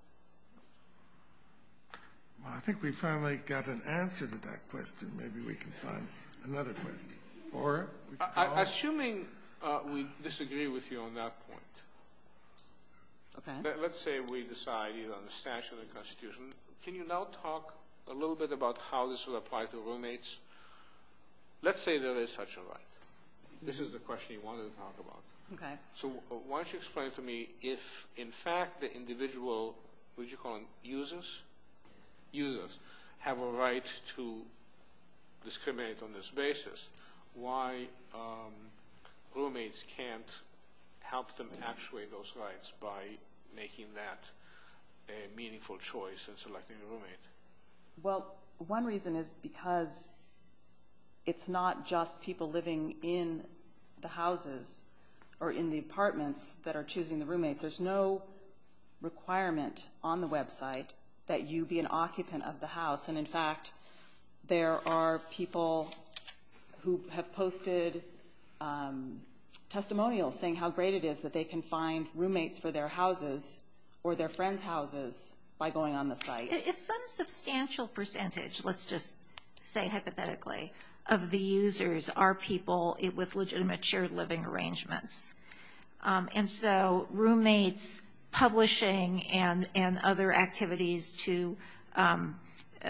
Well, I think we finally got an answer to that question. Maybe we can find another question. Assuming we disagree with you on that point, let's say we decide, you know, on the statute of the Constitution, can you now talk a little bit about how this would apply to roommates? Let's say there is such a right. This is the question you wanted to talk about. Okay. So why don't you explain to me if, in fact, the individual, would you call them users, users have a right to discriminate on this basis, why roommates can't help them actuate those rights by making that a meaningful choice in selecting a roommate? Well, one reason is because it's not just people living in the houses or in the apartments that are choosing the roommates. There's no requirement on the website that you be an occupant of the house. And, in fact, there are people who have posted testimonials saying how great it is that they can find roommates for their houses or their friends' houses by going on the site. If some substantial percentage, let's just say hypothetically, of the users are people with legitimate shared living arrangements, and so roommates publishing and other activities to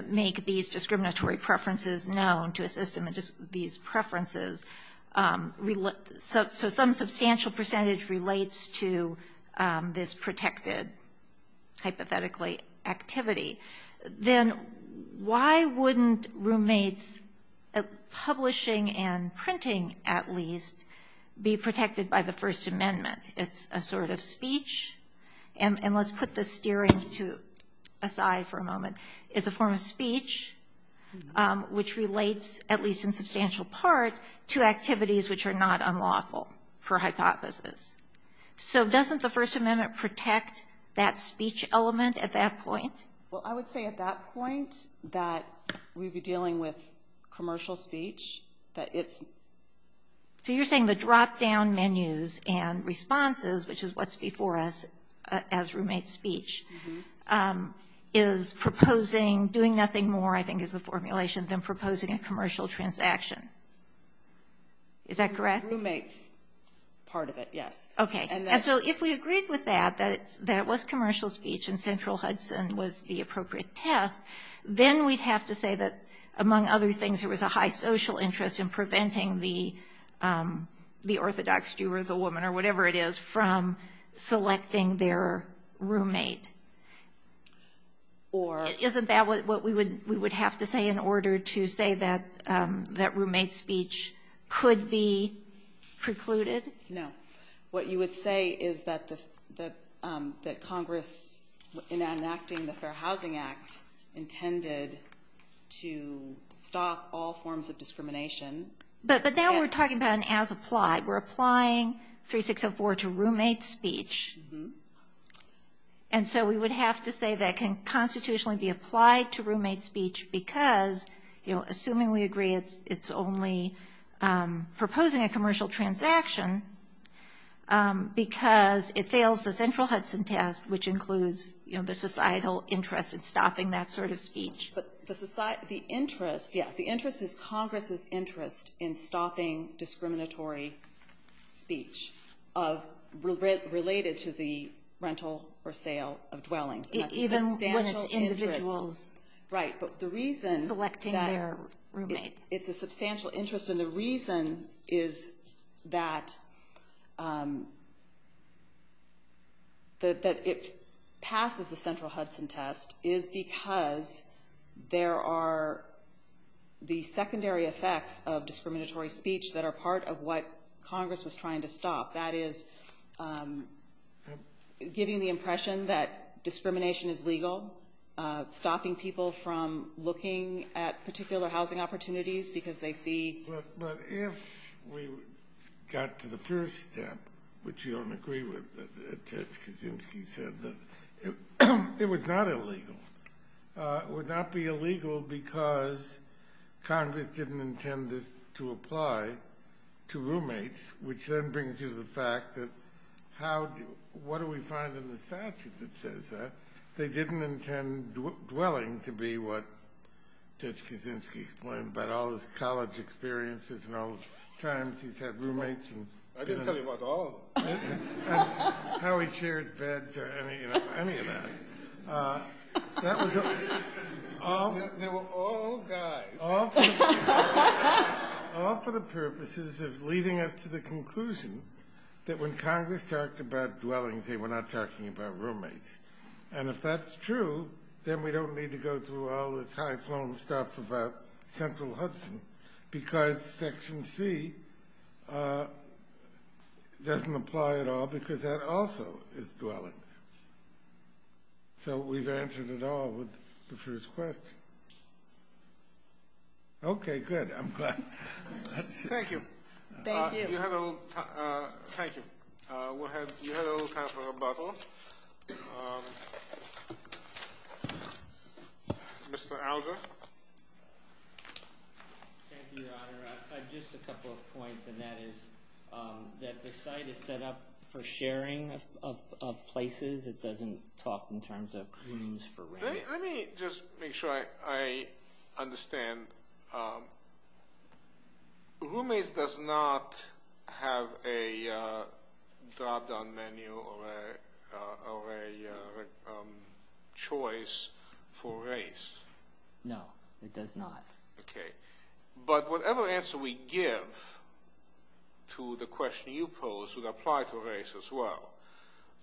make these discriminatory preferences known to assist in these preferences, so some substantial percentage relates to this protected, hypothetically, activity, then why wouldn't roommates publishing and printing, at least, be protected by the First Amendment? It's a sort of speech, and let's put the steering aside for a moment. It's a form of speech which relates, at least in substantial part, to activities which are not unlawful, per hypothesis. So doesn't the First Amendment protect that speech element at that point? Well, I would say at that point that we'd be dealing with commercial speech. So you're saying the drop-down menus and responses, which is what's before us as roommate speech, is proposing doing nothing more, I think is the formulation, than proposing a commercial transaction. Is that correct? Roommates, part of it, yes. Okay. And so if we agreed with that, that it was commercial speech and Central Hudson was the appropriate test, then we'd have to say that, among other things, there was a high social interest in preventing the orthodox Jew or the woman or whatever it is from selecting their roommate. Isn't that what we would have to say in order to say that roommate speech could be precluded? No. What you would say is that Congress, in enacting the Fair Housing Act, intended to stop all forms of discrimination. But now we're talking about an as-applied. We're applying 3604 to roommate speech. And so we would have to say that can constitutionally be applied to roommate speech because, assuming we agree it's only proposing a commercial transaction because it fails the Central Hudson test, which includes the societal interest in stopping that sort of speech. But the interest is Congress's interest in stopping discriminatory speech related to the rental or sale of dwellings. Even when it's individuals. Right. But the reason that it's a substantial interest and the reason is that it passes the Central Hudson test is because there are the secondary effects of discriminatory speech that are part of what Congress was trying to stop. That is giving the impression that discrimination is legal, stopping people from looking at particular housing opportunities because they see. But if we got to the first step, which you don't agree with, as Ted Kaczynski said, it was not illegal. It would not be illegal because Congress didn't intend this to apply to roommates, which then brings you to the fact that what do we find in the statute that says that? They didn't intend dwelling to be what Ted Kaczynski explained about all his college experiences and all the times he's had roommates. I didn't tell you about all of them. How he chairs beds or any of that. They were all guys. All for the purposes of leading us to the conclusion that when Congress talked about dwellings, they were not talking about roommates. And if that's true, then we don't need to go through all this high-flown stuff about Central Hudson because Section C doesn't apply at all because that also is dwellings. So we've answered it all with the first question. Okay, good. I'm glad. Thank you. Thank you. Thank you. You had a little time for a bottle. Mr. Alger. Thank you, Your Honor. Just a couple of points, and that is that the site is set up for sharing of places. It doesn't talk in terms of rooms for roommates. Let me just make sure I understand. Roommates does not have a drop-down menu or a choice for race. No, it does not. Okay. But whatever answer we give to the question you pose would apply to race as well.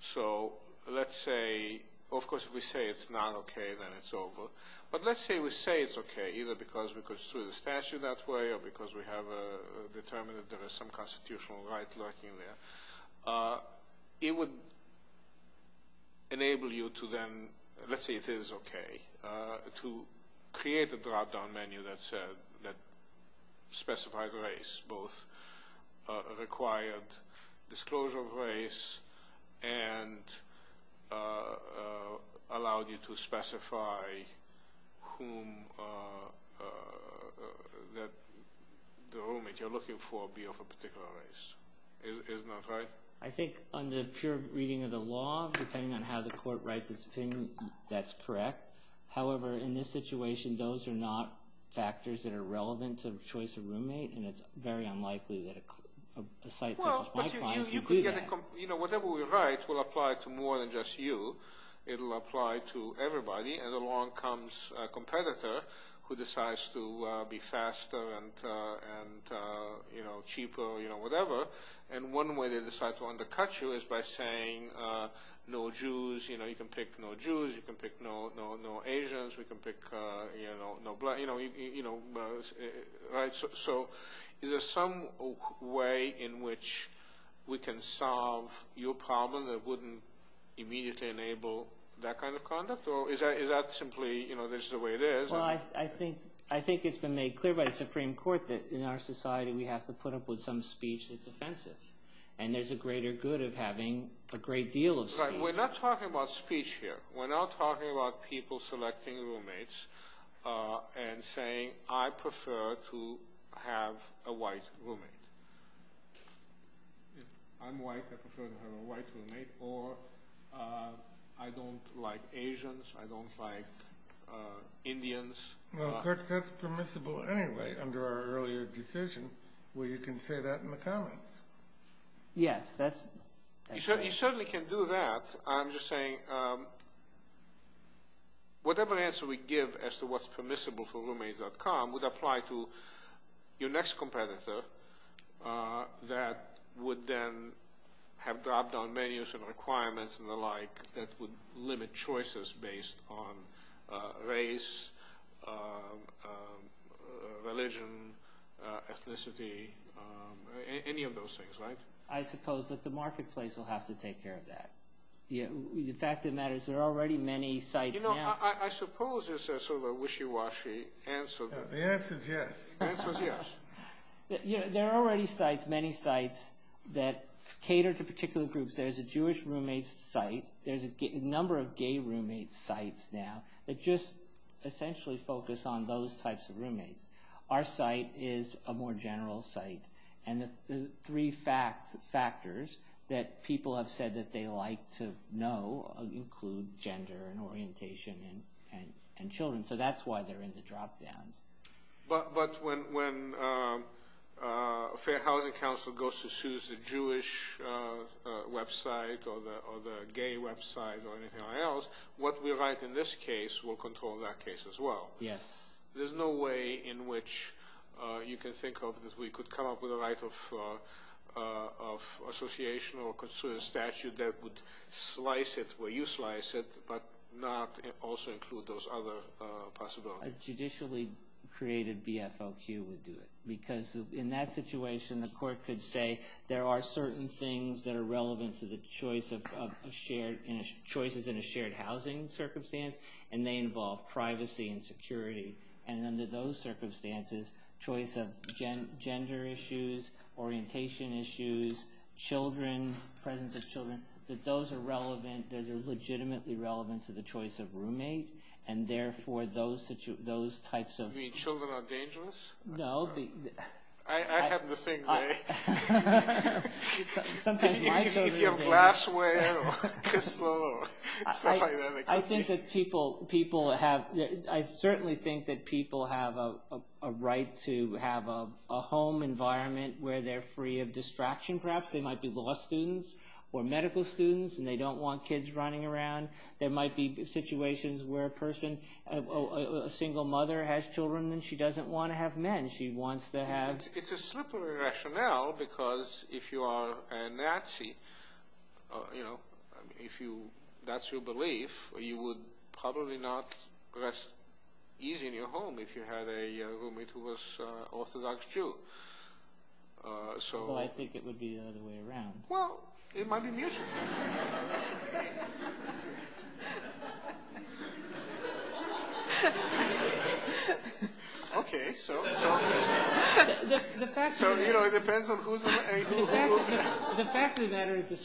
So let's say, of course, if we say it's not okay, then it's over. But let's say we say it's okay, either because we go through the statute that way or because we have determined that there is some constitutional right lurking there. It would enable you to then, let's say it is okay, to create a drop-down menu that specified race, both required disclosure of race and allowed you to specify whom the roommate you're looking for would be of a particular race. Isn't that right? I think under pure reading of the law, depending on how the court writes its opinion, that's correct. However, in this situation, those are not factors that are relevant to the choice of roommate, and it's very unlikely that a site such as my clients would do that. Whatever we write will apply to more than just you. It will apply to everybody. And along comes a competitor who decides to be faster and cheaper, whatever. And one way they decide to undercut you is by saying no Jews. You can pick no Jews. You can pick no Asians. We can pick no blacks. So is there some way in which we can solve your problem that wouldn't immediately enable that kind of conduct? Or is that simply the way it is? I think it's been made clear by the Supreme Court that in our society we have to put up with some speech that's offensive, and there's a greater good of having a great deal of speech. We're not talking about speech here. We're not talking about people selecting roommates and saying I prefer to have a white roommate. If I'm white, I prefer to have a white roommate, or I don't like Asians, I don't like Indians. Well, Kurt, that's permissible anyway under our earlier decision where you can say that in the comments. Yes, that's right. You certainly can do that. I'm just saying whatever answer we give as to what's permissible for roommates.com would apply to your next competitor that would then have dropped down menus and requirements and the like that would limit choices based on race, religion, ethnicity, any of those things, right? I suppose, but the marketplace will have to take care of that. The fact of the matter is there are already many sites now. You know, I suppose it's sort of a wishy-washy answer. The answer is yes. The answer is yes. There are already many sites that cater to particular groups. There's a Jewish roommate site. There's a number of gay roommate sites now that just essentially focus on those types of roommates. Our site is a more general site, and the three factors that people have said that they like to know include gender and orientation and children, so that's why they're in the drop-downs. But when a Fair Housing Council goes to choose the Jewish website or the gay website or anything like that, what we write in this case will control that case as well. Yes. There's no way in which you can think of that we could come up with a right of association or consider a statute that would slice it where you slice it but not also include those other possibilities. A judicially created BFLQ would do it because in that situation the court could say there are certain things that are relevant to the choices in a shared housing circumstance, and they involve privacy and security. And under those circumstances, choice of gender issues, orientation issues, presence of children, that those are relevant, those are legitimately relevant to the choice of roommate, and therefore those types of- You mean children are dangerous? No. I have the same way. Sometimes my children are dangerous. If you have glassware or Kislow or stuff like that. I certainly think that people have a right to have a home environment where they're free of distraction. Perhaps they might be law students or medical students and they don't want kids running around. There might be situations where a single mother has children and she doesn't want to have men. She wants to have- It's a slippery rationale because if you are a Nazi, if that's your belief, you would probably not rest easy in your home if you had a roommate who was an Orthodox Jew. Although I think it would be the other way around. Well, it might be mutual. The fact of the matter is-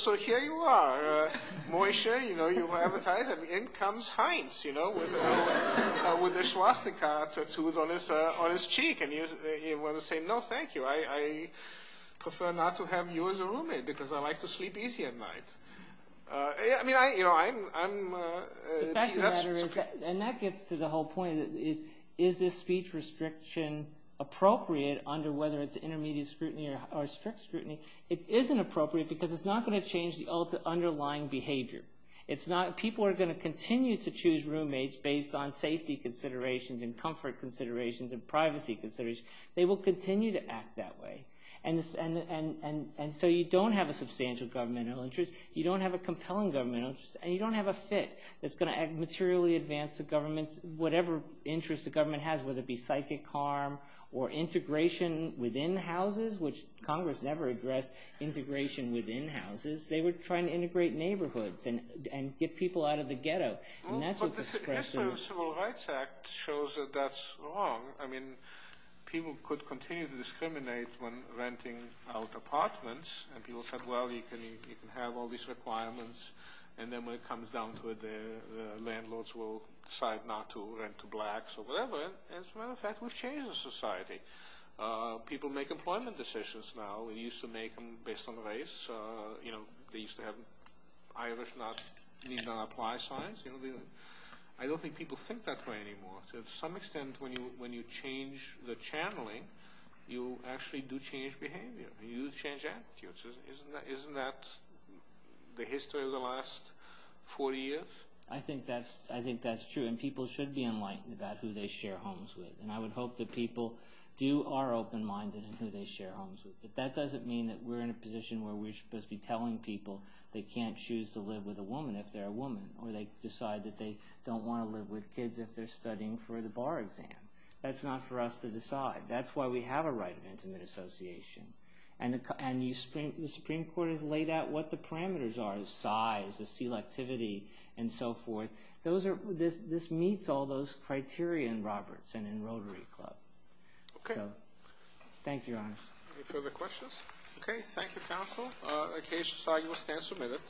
So here you are, Moshe, you have a tie, and in comes Heinz with a swastika tattooed on his cheek. And you want to say, no, thank you. I prefer not to have you as a roommate because I like to sleep easy at night. And that gets to the whole point. Is this speech restriction appropriate under whether it's intermediate scrutiny or strict scrutiny? It isn't appropriate because it's not going to change the underlying behavior. People are going to continue to choose roommates based on safety considerations and comfort considerations and privacy considerations. They will continue to act that way. And so you don't have a substantial governmental interest, you don't have a compelling governmental interest, and you don't have a fit that's going to materially advance the government's- whatever interest the government has, whether it be psychic harm or integration within houses, which Congress never addressed integration within houses. They were trying to integrate neighborhoods and get people out of the ghetto. And that's what's expressed in- Well, but the Civil Rights Act shows that that's wrong. I mean, people could continue to discriminate when renting out apartments, and people said, well, you can have all these requirements, and then when it comes down to it, the landlords will decide not to rent to blacks or whatever. And as a matter of fact, we've changed the society. People make employment decisions now. We used to make them based on race. You know, they used to have Irish not- need not apply signs. I don't think people think that way anymore. To some extent, when you change the channeling, you actually do change behavior. You change attitudes. Isn't that the history of the last 40 years? I think that's true, and people should be enlightened about who they share homes with. And I would hope that people do- are open-minded in who they share homes with. But that doesn't mean that we're in a position where we're supposed to be telling people they can't choose to live with a woman if they're a woman, or they decide that they don't want to live with kids if they're studying for the bar exam. That's not for us to decide. That's why we have a right of intimate association. And the Supreme Court has laid out what the parameters are, the size, the selectivity, and so forth. Those are- this meets all those criteria in Roberts and in Rotary Club. Okay. Thank you, Your Honor. Any further questions? Okay. Thank you, counsel. The case file will stand submitted.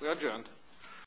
We are adjourned.